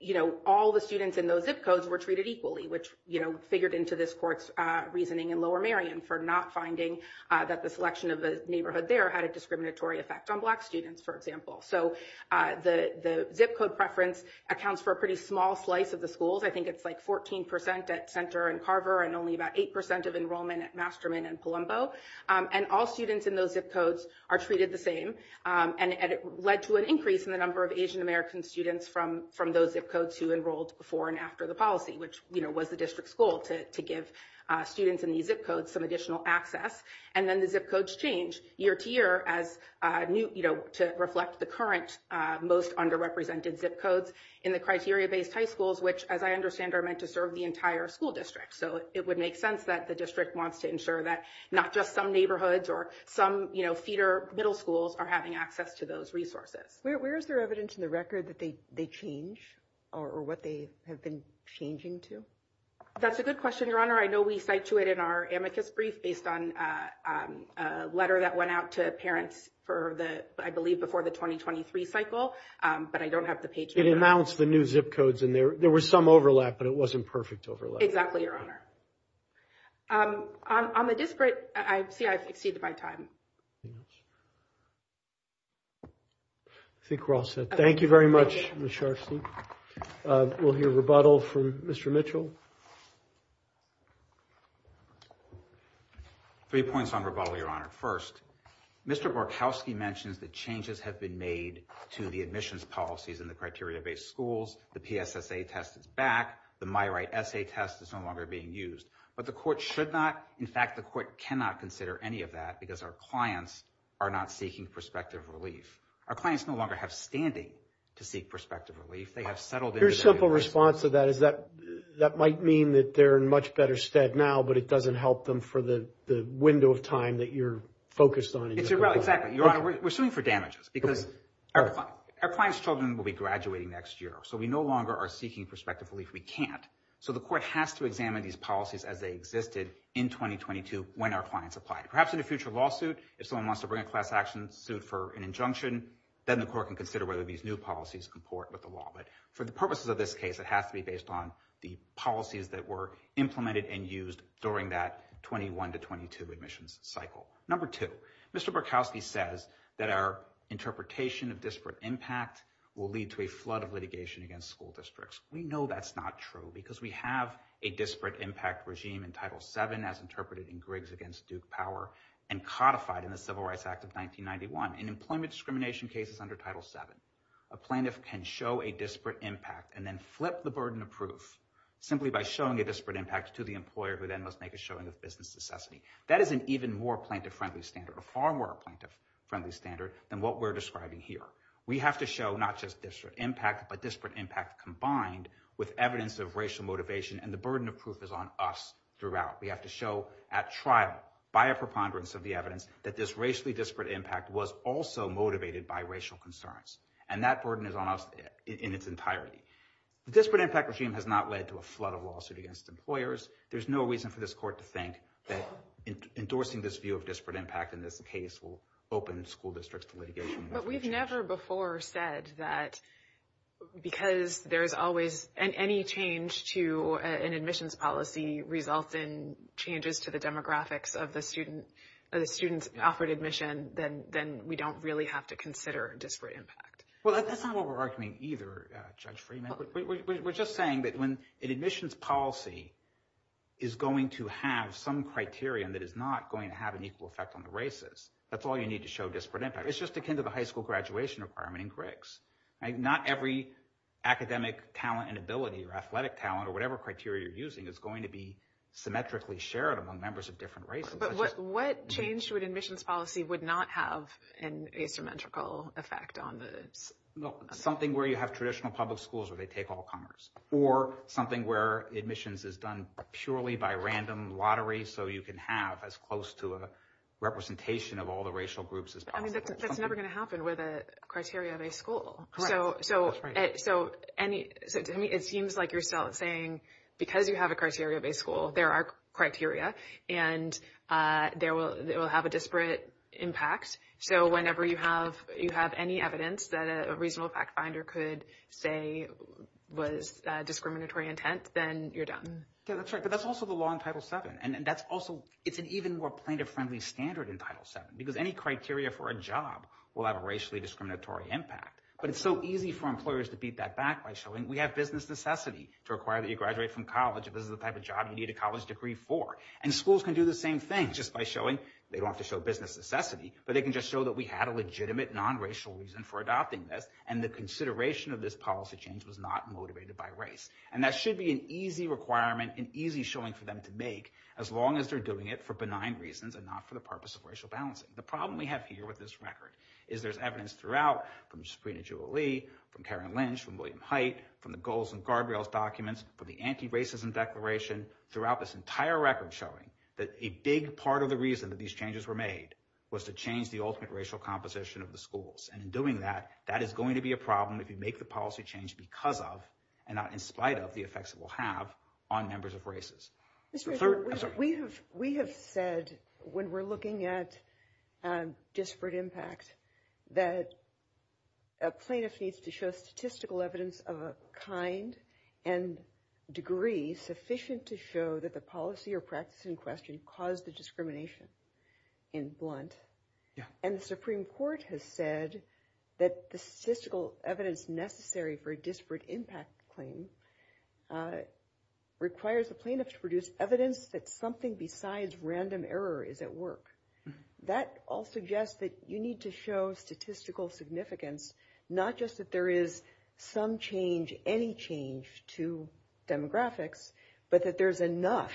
you know, all the students in those ZIP Codes were treated equally, which, you know, figured into this court's reasoning in Lower Marion for not finding that the selection of the neighborhood there had a discriminatory effect on black students, for example. So the ZIP Code preference accounts for a pretty small slice of the schools. I think it's like 14 percent at Center and Carver and only about 8 percent of enrollment at Masterman and Palumbo. And all students in those ZIP Codes are treated the same. And it led to an increase in the number of Asian American students from those ZIP Codes who enrolled before and after the policy, which, you know, was the district's goal to give students in these ZIP Codes some additional access. And then the ZIP Codes change year to year as – you know, to reflect the current most underrepresented ZIP Codes in the criteria-based high schools, which, as I understand, are meant to serve the entire school district. So it would make sense that the district wants to ensure that not just some neighborhoods or some, you know, feeder middle schools are having access to those resources. Where is there evidence in the record that they change or what they have been changing to? That's a good question, Your Honor. I know we cite to it in our amicus brief based on a letter that went out to parents for the – I believe before the 2023 cycle, but I don't have the page here. It announced the new ZIP Codes and there was some overlap, but it wasn't perfect overlap. Exactly, Your Honor. On the district, I see I've exceeded my time. I think we're all set. Thank you very much, Ms. Sharfstein. We'll hear rebuttal from Mr. Mitchell. Three points on rebuttal, Your Honor. First, Mr. Borkowski mentioned the changes have been made to the admissions policies in the criteria-based schools. The PSSA test is back. The MyRight essay test is no longer being used. But the court should not – in fact, the court cannot consider any of that because our clients are not seeking prospective relief. Our clients no longer have standing to seek prospective relief. They have settled in. Your simple response to that is that that might mean that they're in much better stead now, but it doesn't help them for the window of time that you're focused on. Exactly, Your Honor. We're suing for damages because our client's children will be graduating next year, so we no longer are seeking prospective relief. So the court has to examine these policies as they existed in 2022 when our clients replied. Perhaps in a future lawsuit, if someone wants to bring a class action suit for an injunction, then the court can consider whether these new policies comport with the law. But for the purposes of this case, it has to be based on the policies that were implemented and used during that 21 to 22 admissions cycle. Number two, Mr. Borkowski says that our interpretation of disparate impact will lead to a flood of litigation against school districts. We know that's not true because we have a disparate impact regime in Title VII as interpreted in Griggs against Duke Power and codified in the Civil Rights Act of 1991. In employment discrimination cases under Title VII, a plaintiff can show a disparate impact and then flip the burden of proof simply by showing a disparate impact to the employer, who then must make a showing of business necessity. That is an even more plaintiff-friendly standard, a far more plaintiff-friendly standard than what we're describing here. We have to show not just disparate impact, but disparate impact combined with evidence of racial motivation, and the burden of proof is on us throughout. We have to show at trial, by a preponderance of the evidence, that this racially disparate impact was also motivated by racial concerns. And that burden is on us in its entirety. The disparate impact regime has not led to a flood of lawsuit against employers. There's no reason for this court to think that endorsing this view of disparate impact in this case will open the school districts to litigation. But we've never before said that because there's always, and any change to an admissions policy results in changes to the demographics of the students offered admission, then we don't really have to consider disparate impact. Well, that's not what we're arguing either, Judge Freeman. We're just saying that when an admissions policy is going to have some criterion that is not going to have an equal effect on the races, that's all you need to show disparate impact. It's just akin to the high school graduation requirement in critics. Not every academic talent and ability or athletic talent or whatever criteria you're using is going to be symmetrically shared among members of different races. But what change to an admissions policy would not have an asymmetrical effect on this? Well, something where you have traditional public schools where they take all comers, or something where admissions is done purely by random lottery, so you can have as close to a representation of all the racial groups as possible. That's never going to happen with a criteria-based school. It seems like you're still saying because you have a criteria-based school, there are criteria, and it will have a disparate impact. So whenever you have any evidence that a reasonable fact finder could say was discriminatory intent, then you're done. That's right. But that's also the law in Title VII, and that's also, it's an even more pointer-friendly standard in Title VII, because any criteria for a job will have a racially discriminatory impact. But it's so easy for employers to beat that back by showing, we have business necessity to require that you graduate from college if this is the type of job you need a college degree for. And schools can do the same thing just by showing, they don't have to show business necessity, but they can just show that we had a legitimate non-racial reason for adopting this, and the consideration of this policy change was not motivated by race. And that should be an easy requirement, an easy showing for them to make, as long as they're doing it for benign reasons and not for the purpose of racial balancing. The problem we have here with this record is there's evidence throughout from Sabrina Jewelly, from Karen Lynch, from William Hite, from the goals and guardrails documents, from the anti-racism declaration throughout this entire record showing that a big part of the reason that these changes were made was to change the ultimate racial composition of the schools. And in doing that, that is going to be a problem if you make the policy change because of, and not in spite of, the effects it will have on members of races. Mr. Chairman, we have said when we're looking at disparate impact that a plaintiff needs to show statistical evidence of a kind and degree sufficient to show that the policy or practice in question caused the discrimination, in blunt. And the Supreme Court has said that the statistical evidence necessary for disparate impact claims requires the plaintiffs to produce evidence that something besides random error is at work. That all suggests that you need to show statistical significance, not just that there is some change, any change to demographics, but that there's enough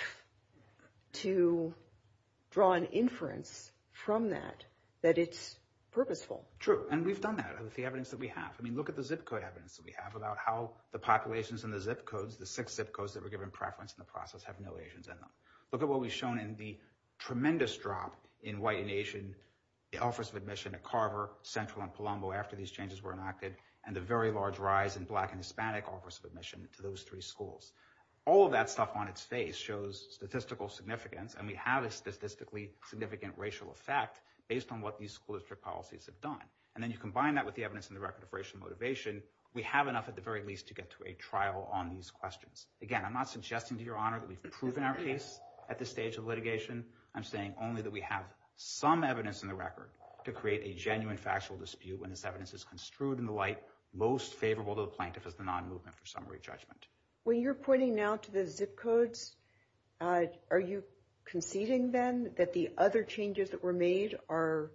to draw an inference from that, that it's purposeful. True. And we've done that. That's the evidence that we have. I mean, look at the zip code evidence that we have about how the populations in the zip codes, the six zip codes that were given preference in the process have no Asians in them. Look at what we've shown in the tremendous drop in white and Asian, the office of admission at Carver, Central, and Palumbo after these changes were enacted, and the very large rise in Black and Hispanic office of admission to those three schools. All of that stuff on its face shows statistical significance, and we have a statistically significant racial effect based on what these school district policies have done. And then you combine that with the evidence in the record of racial motivation, we have enough at the very least to get to a trial on these questions. Again, I'm not suggesting to your honor that we've proven our case at this stage of litigation. I'm saying only that we have some evidence in the record to create a genuine factual dispute when this evidence is construed in the light most favorable to the plaintiffs as the non-movement for summary judgment. When you're pointing now to the zip codes, are you conceding then that the other changes that were made are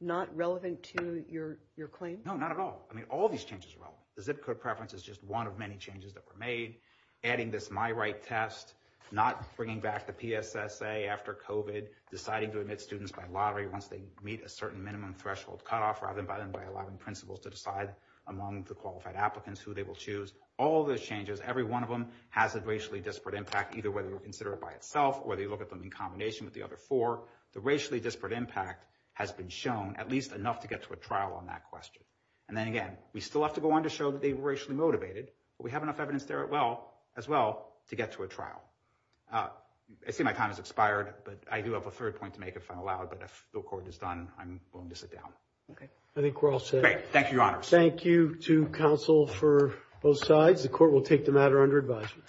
not relevant to your claim? No, not at all. I mean, all of these changes are relevant. The zip code preference is just one of many changes that were made, adding this my right test, not bringing back the PSSA after COVID, deciding to admit students by lottery once they meet a certain minimum threshold cutoff, rather than by allowing principals to decide among the qualified applicants who they will choose. All those changes, every one of them has a racially disparate impact, either whether you consider it by itself, or they look at them in combination with the other four. The racially disparate impact has been shown at least enough to get to a trial on that question. And then again, we still have to go on to show that they were racially motivated, but we have enough evidence there as well to get to a trial. I see my time has expired, but I do have a third point to make if I'm allowed, but if the court is done, I'm going to sit down. I think we're all set. Great. Thank you, Your Honor. Thank you to counsel for both sides. The court will take the matter under advisement.